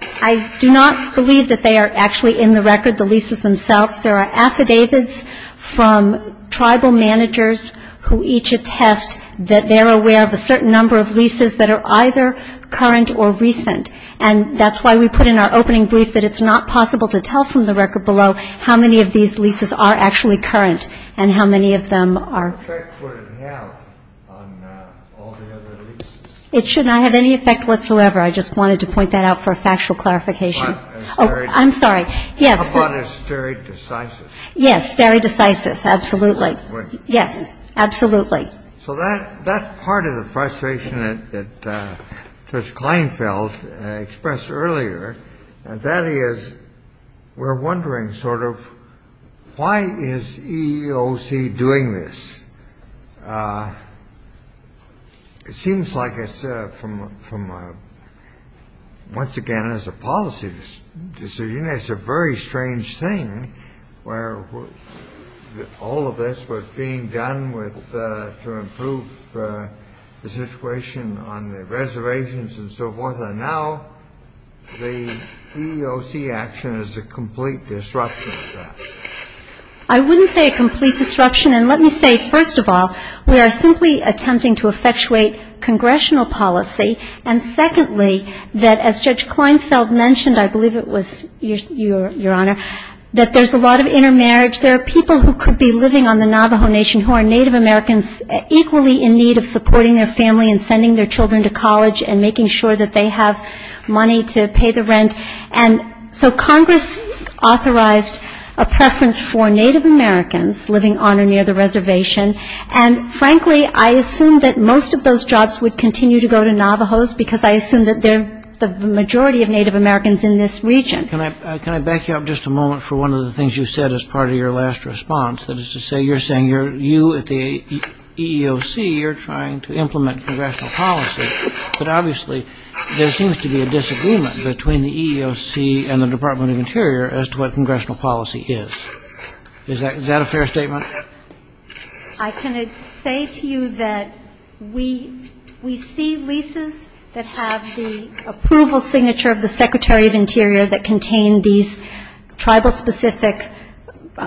I do not believe that they are actually in the record, the leases themselves. There are affidavits from tribal managers who each attest that they're aware of a certain number of leases that are either current or recent, and that's why we put in our opening brief that it's not possible to tell from the record below how many of these leases are actually current and how many of them are – What effect would it have on all the other leases? It should not have any effect whatsoever. I just wanted to point that out for a factual clarification. I'm sorry. Yes. Your thought is very decisive. Yes, very decisive, absolutely. Yes, absolutely. So that part of the frustration that Judge Kleinfeld expressed earlier, and that is, we're wondering sort of, why is EEOC doing this? It seems like, once again, it's a policy decision. It's a very strange thing where all of this was being done to improve the situation on the reservations and so forth, and now the EEOC action is a complete disruption of that. I wouldn't say a complete disruption, and let me say, first of all, we are simply attempting to effectuate congressional policy, and secondly, that as Judge Kleinfeld mentioned, I believe it was your Honor, that there's a lot of intermarriage. There are people who could be living on the Navajo Nation who are Native Americans and making sure that they have money to pay the rent, and so Congress authorized a presence for Native Americans living on or near the reservation, and frankly, I assume that most of those jobs would continue to go to Navajos because I assume that they're the majority of Native Americans in this region. Can I back you up just a moment for one of the things you said as part of your last response? That is to say, you're saying you at the EEOC are trying to implement congressional policy, but obviously there seems to be a disagreement between the EEOC and the Department of Interior as to what congressional policy is. Is that a fair statement? I can say to you that we see leases that have the approval signature of the Secretary of Interior that contain these tribal-specific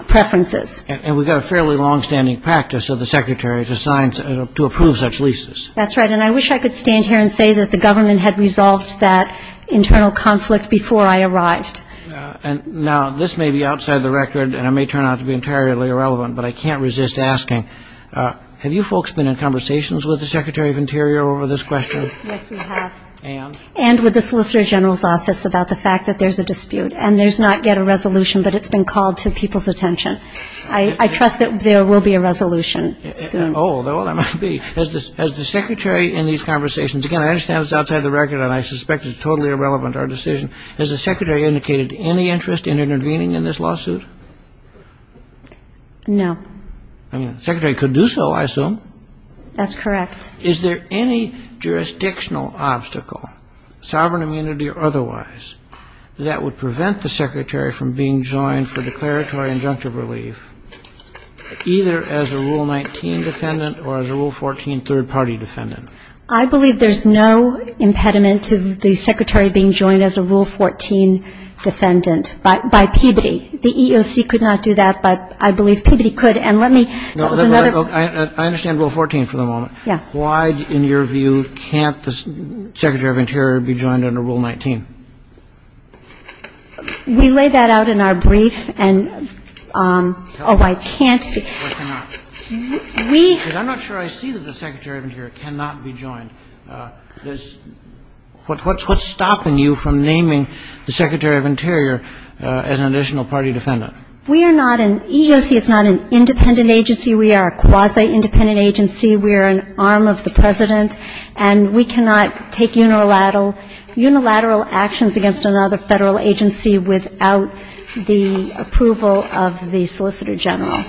preferences. And we've got a fairly longstanding practice of the Secretary to approve such leases. That's right, and I wish I could stand here and say that the government had resolved that internal conflict before I arrived. Now, this may be outside the record, and it may turn out to be entirely irrelevant, but I can't resist asking, have you folks been in conversations with the Secretary of Interior over this question? Yes, we have. And? And with the Solicitor General's Office about the fact that there's a dispute, and there's not yet a resolution, but it's been called to people's attention. I trust that there will be a resolution. Oh, there must be. Has the Secretary in these conversations, again, I understand it's outside the record, and I suspect it's totally irrelevant to our decision, has the Secretary indicated any interest in intervening in this lawsuit? No. The Secretary could do so, I assume. That's correct. Is there any jurisdictional obstacle, sovereign immunity or otherwise, that would prevent the Secretary from being joined for declaratory injunctive relief, either as a Rule 19 defendant or as a Rule 14 third-party defendant? I believe there's no impediment to the Secretary being joined as a Rule 14 defendant by Peabody. The EEOC could not do that, but I believe Peabody could. And let me – I understand Rule 14 for the moment. Yeah. Why, in your view, can't the Secretary of Interior be joined under Rule 19? We lay that out in our brief, and – oh, I can't – Why cannot? We – Because I'm not sure I see that the Secretary of Interior cannot be joined. What's stopping you from naming the Secretary of Interior as an additional party defendant? We are not an – EEOC is not an independent agency. We are a quasi-independent agency. We are an arm of the President, and we cannot take unilateral actions against another federal agency without the approval of the Solicitor General.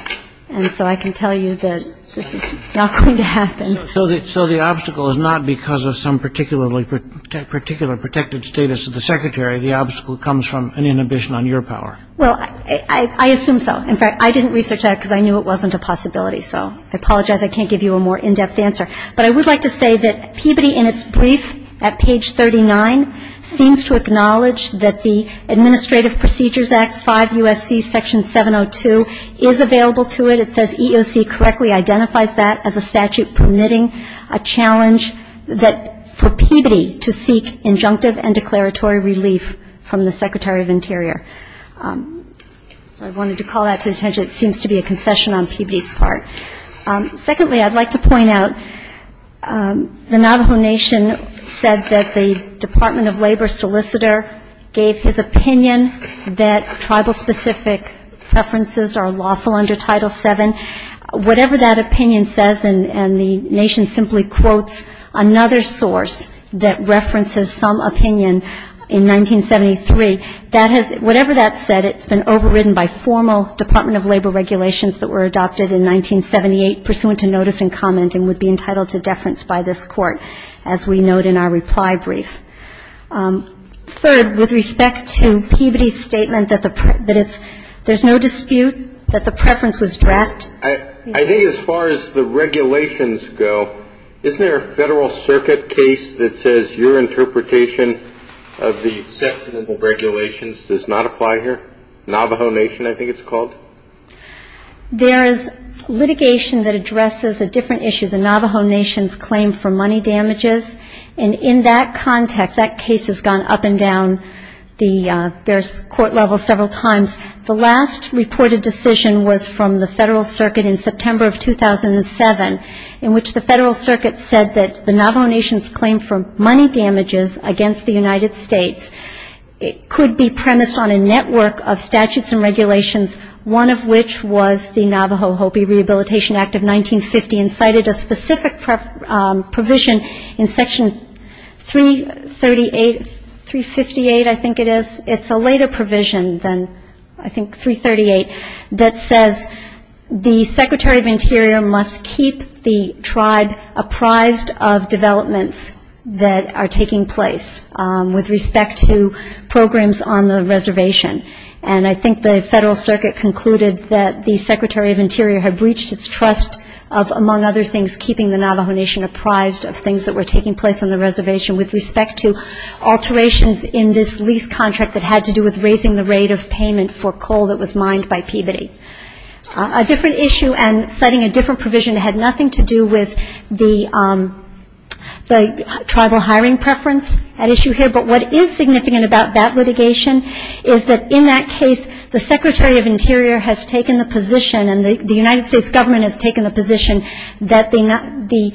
And so I can tell you that this is not going to happen. So the obstacle is not because of some particular protected status of the Secretary. The obstacle comes from an inhibition on your power. Well, I assume so. In fact, I didn't research that because I knew it wasn't a possibility. So I apologize. I can't give you a more in-depth answer. But I would like to say that Peabody, in its brief at page 39, seems to acknowledge that the Administrative Procedures Act 5 U.S.C. Section 702 is available to it. It says EEOC correctly identifies that as a statute permitting a challenge that – for Peabody to seek injunctive and declaratory relief from the Secretary of Interior. I wanted to call that to attention. It seems to be a concession on Peabody's part. Secondly, I'd like to point out the Navajo Nation said that the Department of Labor solicitor gave his opinion that tribal-specific sufferances are lawful under Title VII. Whatever that opinion says, and the Nation simply quotes another source that references some opinion in 1973, whatever that said, it's been overridden by formal Department of Labor regulations that were adopted in 1978 pursuant to notice and comment and would be entitled to deference by this Court, as we note in our reply brief. Third, with respect to Peabody's statement that there's no dispute that the preference was draft. I think as far as the regulations go, isn't there a Federal Circuit case that says your interpretation of the set of regulations does not apply here? Navajo Nation, I think it's called? There is litigation that addresses a different issue, the Navajo Nation's claim for money damages. And in that context, that case has gone up and down the various court levels several times. The last reported decision was from the Federal Circuit in September of 2007, in which the Federal Circuit said that the Navajo Nation's claim for money damages against the United States could be premised on a network of statutes and regulations, one of which was the Navajo Hopi Rehabilitation Act of 1950 and cited a specific provision in Section 358, I think it is. It's a later provision than, I think, 338, that says the Secretary of Interior must keep the tribe apprised of developments that are taking place with respect to programs on the reservation. And I think the Federal Circuit concluded that the Secretary of Interior had breached its trust of, among other things, keeping the Navajo Nation apprised of things that were taking place on the reservation with respect to alterations in this lease contract that had to do with raising the rate of payment for coal that was mined by Peabody. A different issue and setting a different provision had nothing to do with the tribal hiring preference at issue here, but what is significant about that litigation is that in that case, the Secretary of Interior has taken the position and the United States government has taken the position that the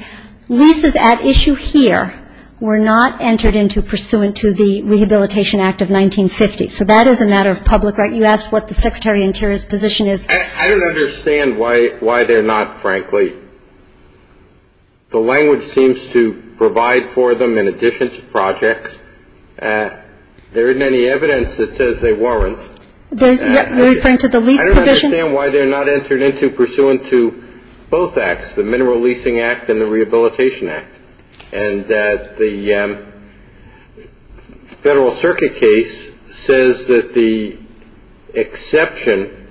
leases at issue here were not entered into pursuant to the Rehabilitation Act of 1950. So that is a matter of public right. You asked what the Secretary of Interior's position is. I don't understand why they're not, frankly. The language seems to provide for them in addition to projects. There isn't any evidence that says they weren't. Are you referring to the lease provision? I don't understand why they're not entered into pursuant to both acts, the Mineral Leasing Act and the Rehabilitation Act. And that the Federal Circuit case says that the exception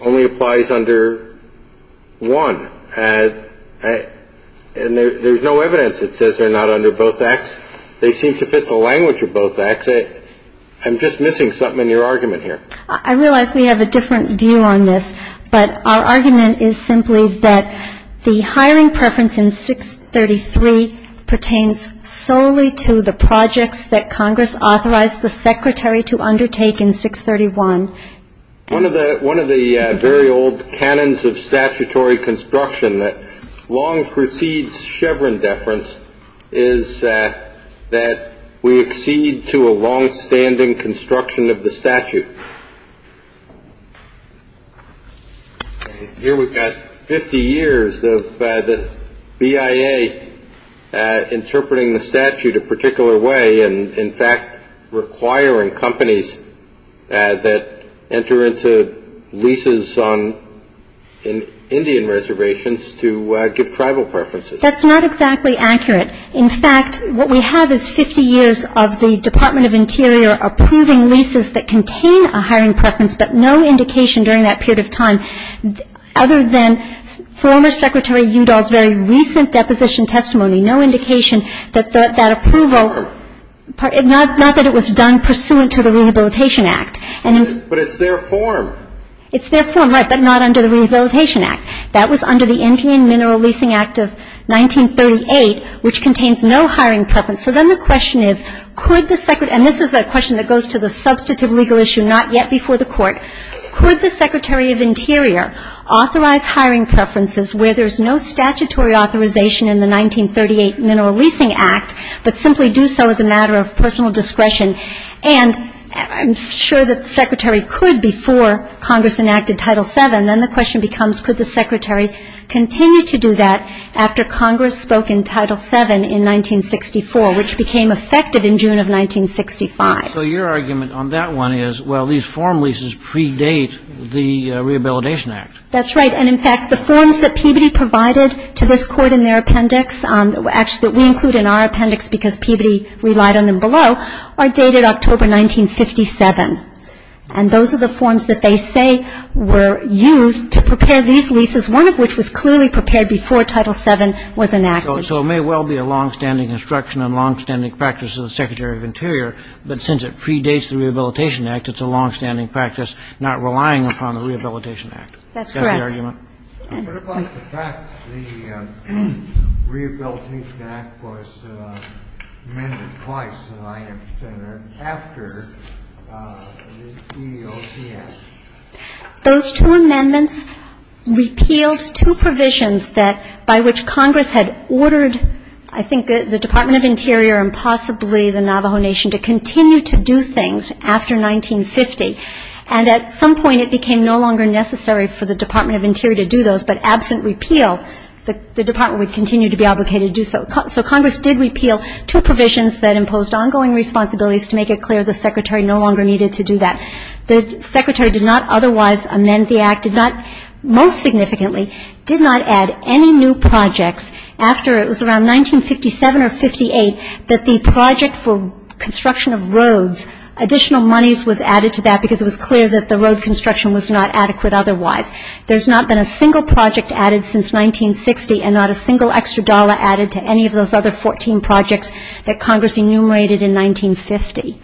only applies under one. And there's no evidence that says they're not under both acts. They seem to fit the language of both acts. I'm just missing something in your argument here. I realize we have a different view on this, but our argument is simply that the hiring preference in 633 pertains solely to the projects that Congress authorized the Secretary to undertake in 631. One of the very old canons of statutory construction that long precedes Chevron deference is that we accede to a longstanding construction of the statute. Here we've got 50 years of the BIA interpreting the statute a particular way and, in fact, requiring companies that enter into leases on Indian reservations to give tribal preferences. That's not exactly accurate. In fact, what we have is 50 years of the Department of Interior approving leases that contain a hiring preference, but no indication during that period of time other than former Secretary Udall's very recent deposition testimony, no indication that that approval, not that it was done pursuant to the Rehabilitation Act. But it's their form. It's their form, right, but not under the Rehabilitation Act. That was under the Indian Mineral Leasing Act of 1938, which contains no hiring preference. So then the question is, could the Secretary, and this is a question that goes to the substantive legal issue not yet before the Court, could the Secretary of Interior authorize hiring preferences where there's no statutory authorization in the 1938 Mineral Leasing Act, but simply do so as a matter of personal discretion? And I'm sure that the Secretary could before Congress enacted Title VII. And then the question becomes, could the Secretary continue to do that after Congress spoke in Title VII in 1964, which became effective in June of 1965? So your argument on that one is, well, these form leases predate the Rehabilitation Act. That's right. And, in fact, the forms that Peabody provided to this Court in their appendix, actually that we include in our appendix because Peabody relied on them below, are dated October 1957. And those are the forms that they say were used to prepare these leases, one of which was clearly prepared before Title VII was enacted. So it may well be a longstanding instruction and longstanding practice of the Secretary of Interior, but since it predates the Rehabilitation Act, it's a longstanding practice not relying upon the Rehabilitation Act. That's correct. What about the fact that the Rehabilitation Act was amended twice in the 9th Amendment after the CEOC Act? Those two amendments repealed two provisions by which Congress had ordered, I think, the Department of Interior and possibly the Navajo Nation to continue to do things after 1950. And at some point, it became no longer necessary for the Department of Interior to do those, but absent repeal, the Department would continue to be obligated to do so. So Congress did repeal two provisions that imposed ongoing responsibilities to make it clear the Secretary no longer needed to do that. The Secretary did not otherwise amend the Act, did not most significantly, did not add any new projects after it was around 1957 or 58 that the project for construction of roads, additional monies was added to that because it was clear that the road construction was not adequate otherwise. There's not been a single project added since 1960 and not a single extra dollar added to any of those other 14 projects that Congress enumerated in 1950.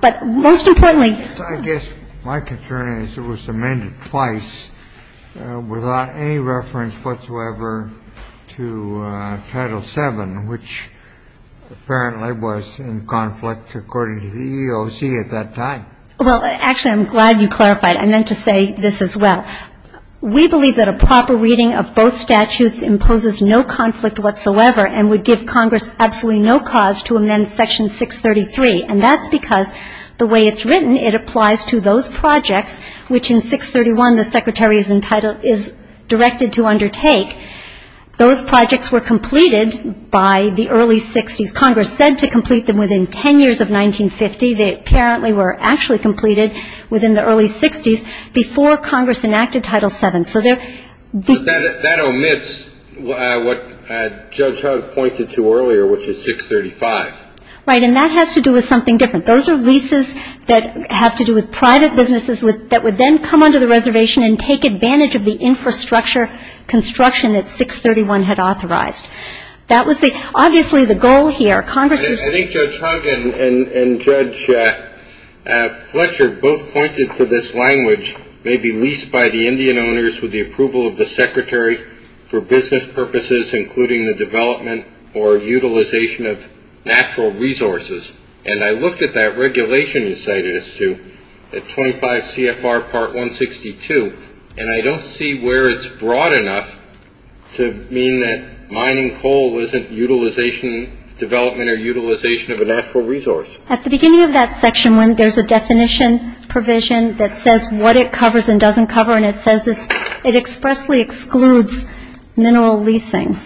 But most importantly... I guess my concern is it was amended twice without any reference whatsoever to Title VII, which apparently was in conflict according to the EEOC at that time. Well, actually, I'm glad you clarified. I meant to say this as well. We believe that a proper reading of both statutes imposes no conflict whatsoever and would give Congress absolutely no cause to amend Section 633, and that's because the way it's written, it applies to those projects, which in 631, the Secretary is entitled, is directed to undertake. Those projects were completed by the early 60s. Congress said to complete them within ten years of 1950. They apparently were actually completed within the early 60s before Congress enacted Title VII. That omits what Judge Hugg pointed to earlier, which is 635. Right, and that has to do with something different. Those are leases that have to do with private businesses that would then come under the reservation and take advantage of the infrastructure construction that 631 had authorized. That was obviously the goal here. I think Judge Hugg and Judge Fletcher both pointed to this language, may be leased by the Indian owners with the approval of the Secretary for business purposes, including the development or utilization of natural resources. And I looked at that regulation you cited, Stu, at 25 CFR Part 162, and I don't see where it's broad enough to mean that mining coal wasn't utilization, development or utilization of a natural resource. At the beginning of that section, there's a definition provision that says what it covers and doesn't cover, and it says it expressly excludes mineral leasing.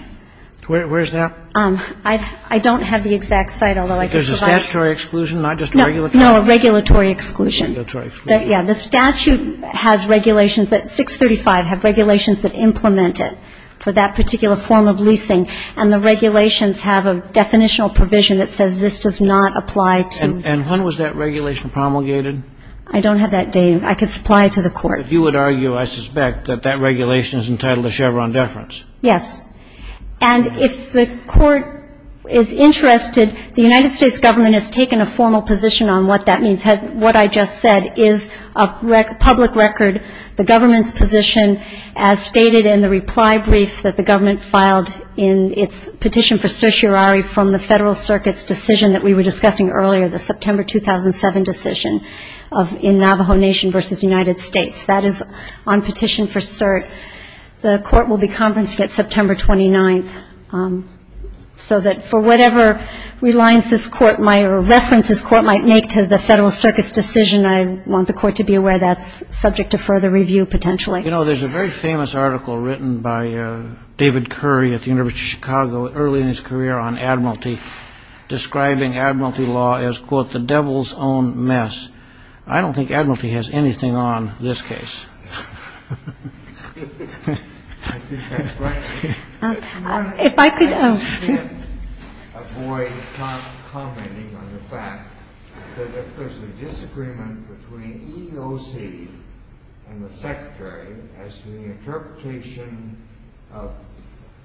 Where's that? I don't have the exact site, although I could provide it. There's a statutory exclusion, not just regulatory? No, a regulatory exclusion. A regulatory exclusion. Yeah, the statute has regulations that 635 have regulations that implement it for that particular form of leasing, and the regulations have a definitional provision that says this does not apply to. And when was that regulation promulgated? I don't have that, Dave. I could supply it to the Court. But you would argue, I suspect, that that regulation is entitled to Chevron deference. Yes. And if the Court is interested, the United States Government has taken a formal position on what that means. What I just said is a public record, the government's position, as stated in the reply brief that the government filed in its petition for certiorari from the Federal Circuit's decision that we were discussing earlier, the September 2007 decision in Navajo Nation versus United States. That is on petition for cert. The Court will be conferencing it September 29th, so that for whatever references the Court might make to the Federal Circuit's decision, I want the Court to be aware that's subject to further review, potentially. You know, there's a very famous article written by David Curry at the University of Chicago early in his career on admiralty, describing admiralty law as, quote, the devil's own mess. I don't think admiralty has anything on this case. If I could avoid commenting on the fact that there's a disagreement between EEOC and the Secretary as to the interpretation of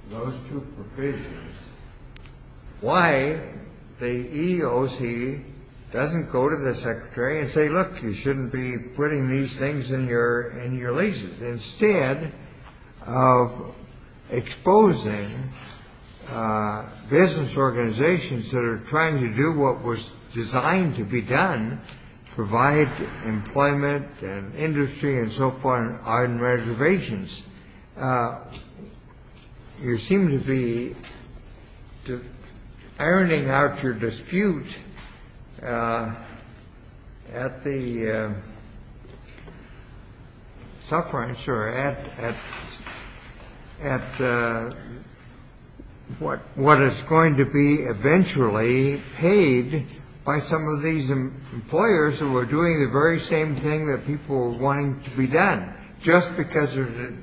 those two provisions. Why the EEOC doesn't go to the Secretary and say, look, you shouldn't be putting these things in your laces. Instead of exposing business organizations that are trying to do what was designed to be done, provide employment and industry and so forth on reservations, you seem to be ironing out your dispute at the sufferance or at what is going to be eventually paid by some of these employers who are doing the very same thing that people are wanting to be done. Just because there's a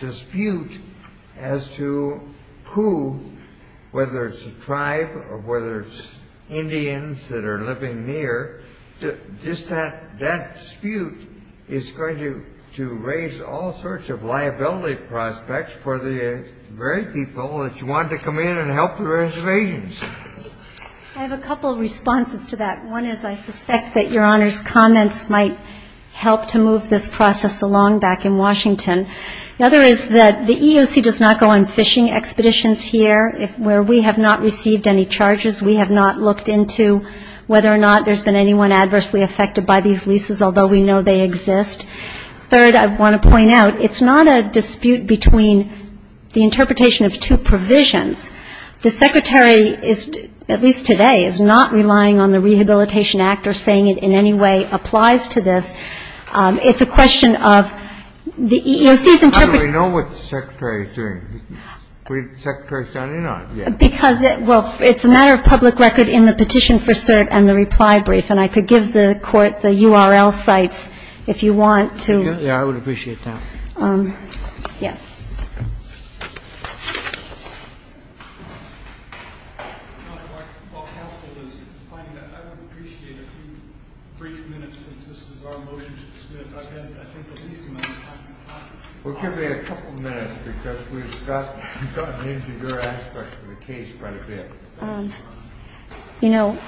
dispute as to who, whether it's a tribe or whether it's Indians that are living near, just that dispute is going to raise all sorts of liability prospects for the very people that want to come in and help the reservations. I have a couple of responses to that. One is I suspect that Your Honor's comments might help to move this process along back in Washington. Another is that the EEOC does not go on fishing expeditions here where we have not received any charges. We have not looked into whether or not there's been anyone adversely affected by these leases, although we know they exist. Third, I want to point out, it's not a dispute between the interpretation of two provisions. The Secretary, at least today, is not relying on the Rehabilitation Act or saying it in any way applies to this. It's a question of the EEOC's interpretation. I don't know what the Secretary is doing. The Secretary is standing up. Well, it's a matter of public record in the petition for cert and the reply brief, and I could give the court the URL sites if you want to. Yeah, I would appreciate that. Yeah. You know,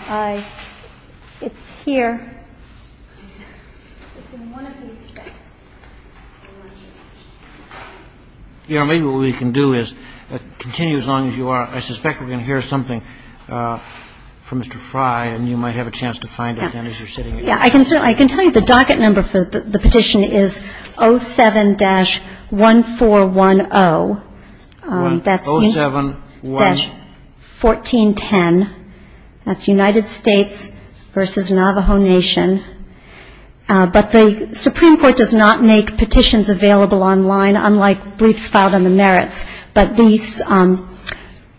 it's here. Your Honor, maybe what we can do is continue as long as you are. I suspect we're going to hear something from Mr. Fry, and you might have a chance to find it. Yeah, I can tell you the docket number for the petition is 07-1410. 07-1410. That's United States versus Navajo Nation. But the Supreme Court does not make petitions available online, unlike briefs filed in the merits. But the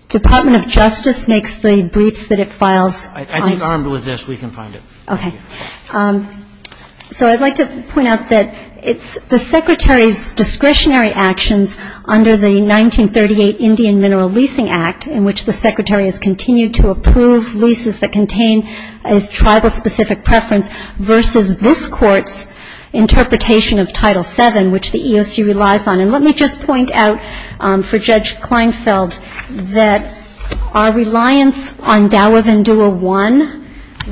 Department of Justice makes the briefs that it files. I think armed with this, we can find it. Okay. So I'd like to point out that the Secretary's discretionary actions under the 1938 Indian Mineral Leasing Act, in which the Secretary has continued to approve leases that contain a tribal-specific preference, versus this Court's interpretation of Title VII, which the ESG relies on. And let me just point out for Judge Kleinfeld that our reliance on Dallivan Dual I,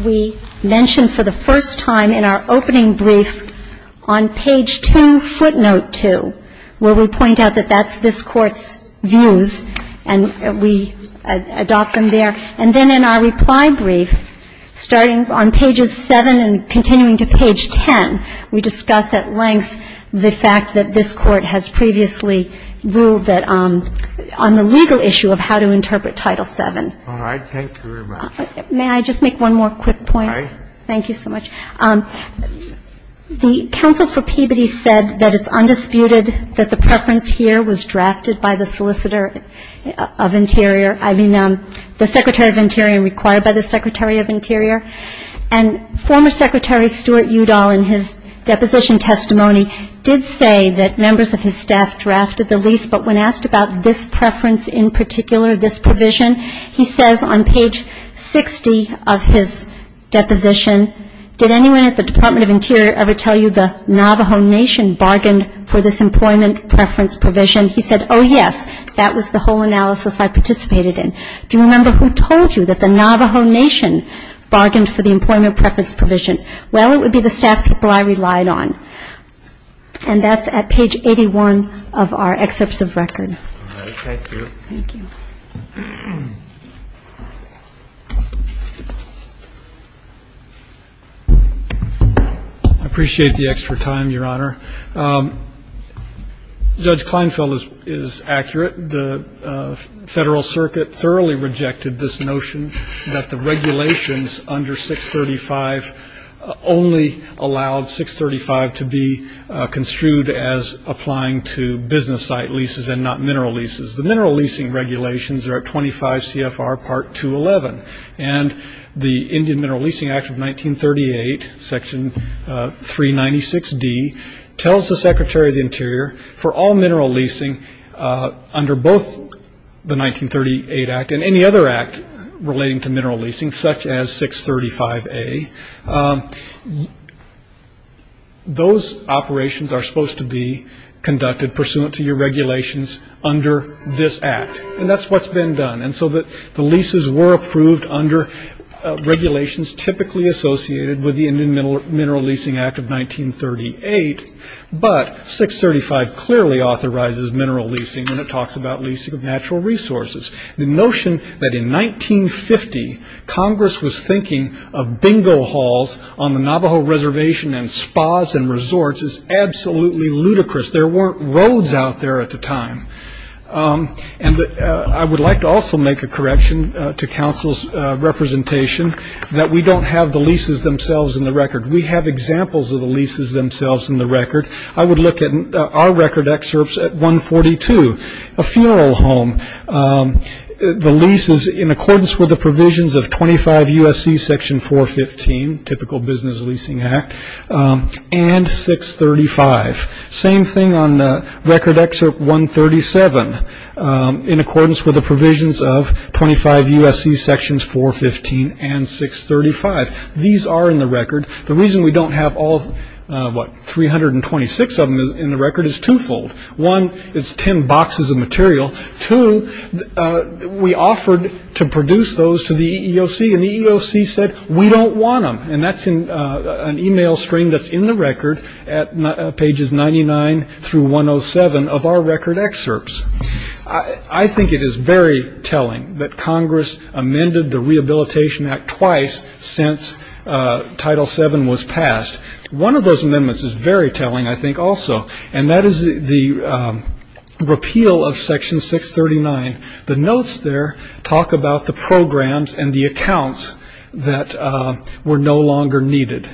we mentioned for the first time in our opening brief on page 2, footnote 2, where we point out that that's this Court's views, and we adopt them there. And then in our reply brief, starting on pages 7 and continuing to page 10, we discuss at length the fact that this Court has previously ruled on the legal issue of how to interpret Title VII. All right. Thank you very much. May I just make one more quick point? All right. Thank you so much. The Council for Peabody said that it's undisputed that the preference here was drafted by the solicitor of Interior, I mean the Secretary of Interior and required by the Secretary of Interior. And former Secretary Stuart Udall in his deposition testimony did say that members of his staff drafted the lease, but when asked about this preference in particular, this provision, he says on page 60 of his deposition, did anyone at the Department of Interior ever tell you the Navajo Nation bargained for this employment preference provision? He said, oh, yes. That was the whole analysis I participated in. Do you remember who told you that the Navajo Nation bargained for the employment preference provision? Well, it would be the staff people I relied on. And that's at page 81 of our excerpts of record. All right. Thank you. Thank you. I appreciate the extra time, Your Honor. Judge Kleinfeld is accurate. The Federal Circuit thoroughly rejected this notion that the regulations under 635 only allowed 635 to be construed as applying to business site leases and not mineral leases. The mineral leasing regulations are at 25 CFR Part 211. And the Indian Mineral Leasing Act of 1938, Section 396D, tells the Secretary of the Interior for all mineral leasing under both the 1938 Act and any other act relating to mineral leasing, such as 635A, those operations are supposed to be conducted pursuant to your regulations under this act. And that's what's been done. And so the leases were approved under regulations typically associated with the Indian Mineral Leasing Act of 1938. But 635 clearly authorizes mineral leasing. And it talks about leasing of natural resources. The notion that in 1950, Congress was thinking of bingo halls on the Navajo Reservation and spas and resorts is absolutely ludicrous. There weren't roads out there at the time. And I would like to also make a correction to counsel's representation that we don't have the leases themselves in the record. We have examples of the leases themselves in the record. I would look at our record excerpts at 142, a funeral home. The lease is in accordance with the provisions of 25 U.S.C. Section 415, typical business leasing act, and 635. Same thing on the record excerpt 137, in accordance with the provisions of 25 U.S.C. Sections 415 and 635. These are in the record. The reason we don't have all, what, 326 of them in the record is twofold. One, it's 10 boxes of material. Two, we offered to produce those to the EEOC, and the EEOC said, we don't want them. And that's an email string that's in the record at pages 99 through 107 of our record excerpts. I think it is very telling that Congress amended the Rehabilitation Act twice since Title VII was passed. One of those amendments is very telling, I think, also, and that is the repeal of Section 639. The notes there talk about the programs and the accounts that were no longer needed.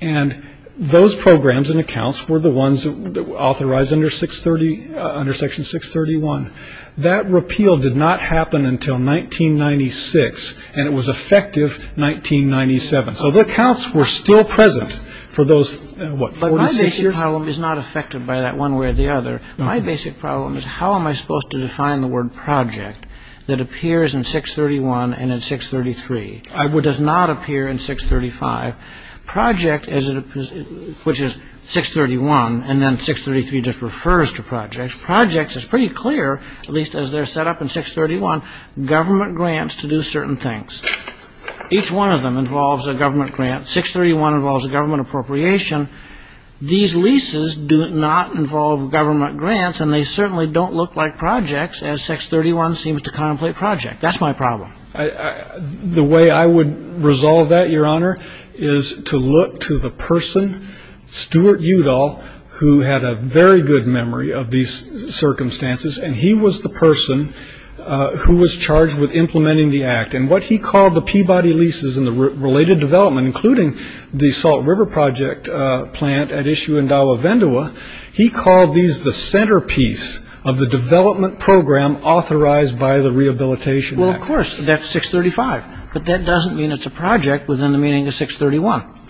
And those programs and accounts were the ones authorized under Section 631. That repeal did not happen until 1996, and it was effective 1997. So the accounts were still present for those, what, 46 years? But my basic problem is not affected by that one way or the other. My basic problem is how am I supposed to define the word project that appears in 631 and in 633, what does not appear in 635. Project, which is 631, and then 633 just refers to projects. Projects is pretty clear, at least as they're set up in 631, government grants to do certain things. Each one of them involves a government grant. 631 involves a government appropriation. These leases do not involve government grants, and they certainly don't look like projects, as 631 seems to contemplate project. That's my problem. The way I would resolve that, Your Honor, is to look to the person, Stuart Udall, who had a very good memory of these circumstances, and he was the person who was charged with implementing the act. And what he called the Peabody leases and the related development, including the Salt River Project plant at Ishu-Indawa-Vendawa, he called these the centerpiece of the development program authorized by the Rehabilitation Act. Well, of course, that's 635. But that doesn't mean it's a project within the meaning of 631.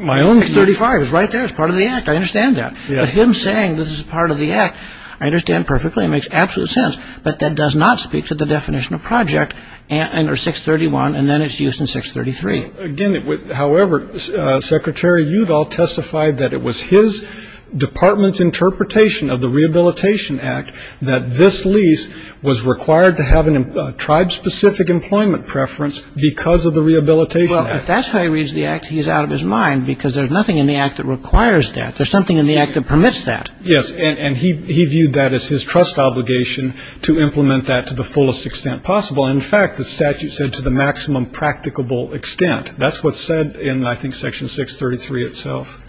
My own 635 is right there as part of the act. I understand that. But him saying this is part of the act, I understand perfectly. It makes absolute sense. But that does not speak to the definition of project under 631, and then it's used in 633. Again, however, Secretary Udall testified that it was his department's interpretation of the Rehabilitation Act that this lease was required to have a tribe-specific employment preference because of the Rehabilitation Act. Well, if that's how he reads the act, he's out of his mind, because there's nothing in the act that requires that. There's something in the act that permits that. Yes, and he viewed that as his trust obligation to implement that to the fullest extent possible. And, in fact, the statute said to the maximum practicable extent. That's what's said in, I think, Section 633 itself.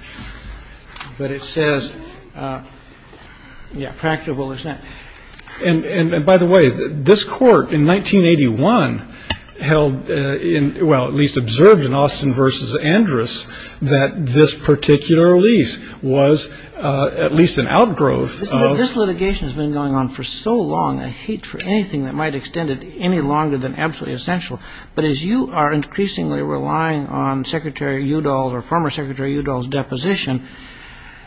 But it says, yeah, practicable extent. And, by the way, this court in 1981 held, well, at least observed in Austin v. Andrus, that this particular lease was at least an outgrowth of- This litigation has been going on for so long, I hate for anything that might extend it any longer than absolutely essential. But as you are increasingly relying on Secretary Udall or former Secretary Udall's deposition,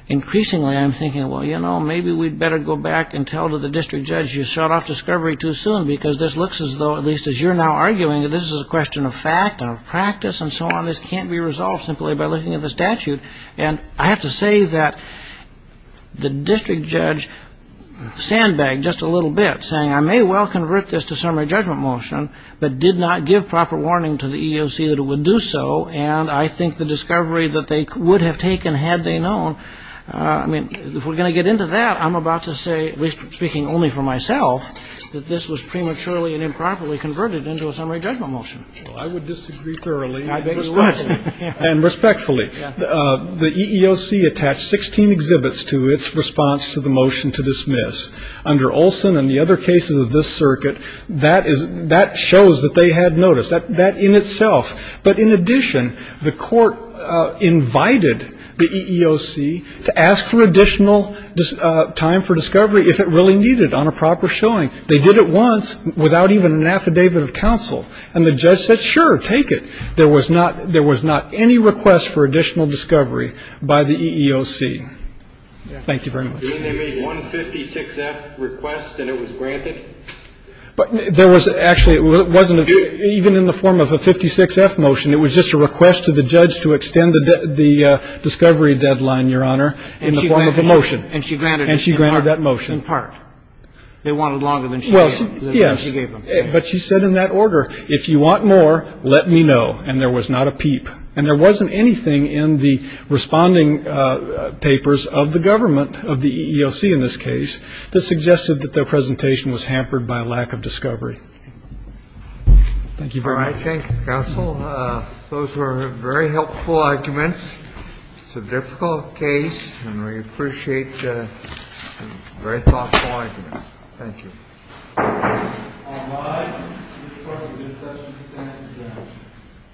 increasingly I'm thinking, well, you know, maybe we'd better go back and tell the district judge you shot off discovery too soon, because this looks as though, at least as you're now arguing, that this is a question of fact, of practice, and so on. This can't be resolved simply by looking at the statute. And I have to say that the district judge sandbagged just a little bit, saying, I may well convert this to summary judgment motion, but did not give proper warning to the EEOC that it would do so, and I think the discovery that they would have taken had they known- I mean, if we're going to get into that, I'm about to say, at least speaking only for myself, that this was prematurely and improperly converted into a summary judgment motion. I would disagree thoroughly. And respectfully. The EEOC attached 16 exhibits to its response to the motion to dismiss. Under Olson and the other cases of this circuit, that shows that they had noticed that in itself. But in addition, the court invited the EEOC to ask for additional time for discovery if it really needed on a proper showing. They did it once without even an affidavit of counsel. And the judge said, sure, take it. There was not any request for additional discovery by the EEOC. Thank you very much. Didn't there be one 56F request that it was granted? There was actually, it wasn't even in the form of a 56F motion. It was just a request to the judge to extend the discovery deadline, Your Honor, in the form of a motion. And she granted that motion. In part. They wanted longer than she gave them. Yes. But she said in that order, if you want more, let me know. And there was not a peep. And there wasn't anything in the responding papers of the government, of the EEOC in this case, that suggested that their presentation was hampered by a lack of discovery. Thank you. I think those were very helpful arguments. It's a difficult case and we appreciate that. Very thoughtful. Thank you.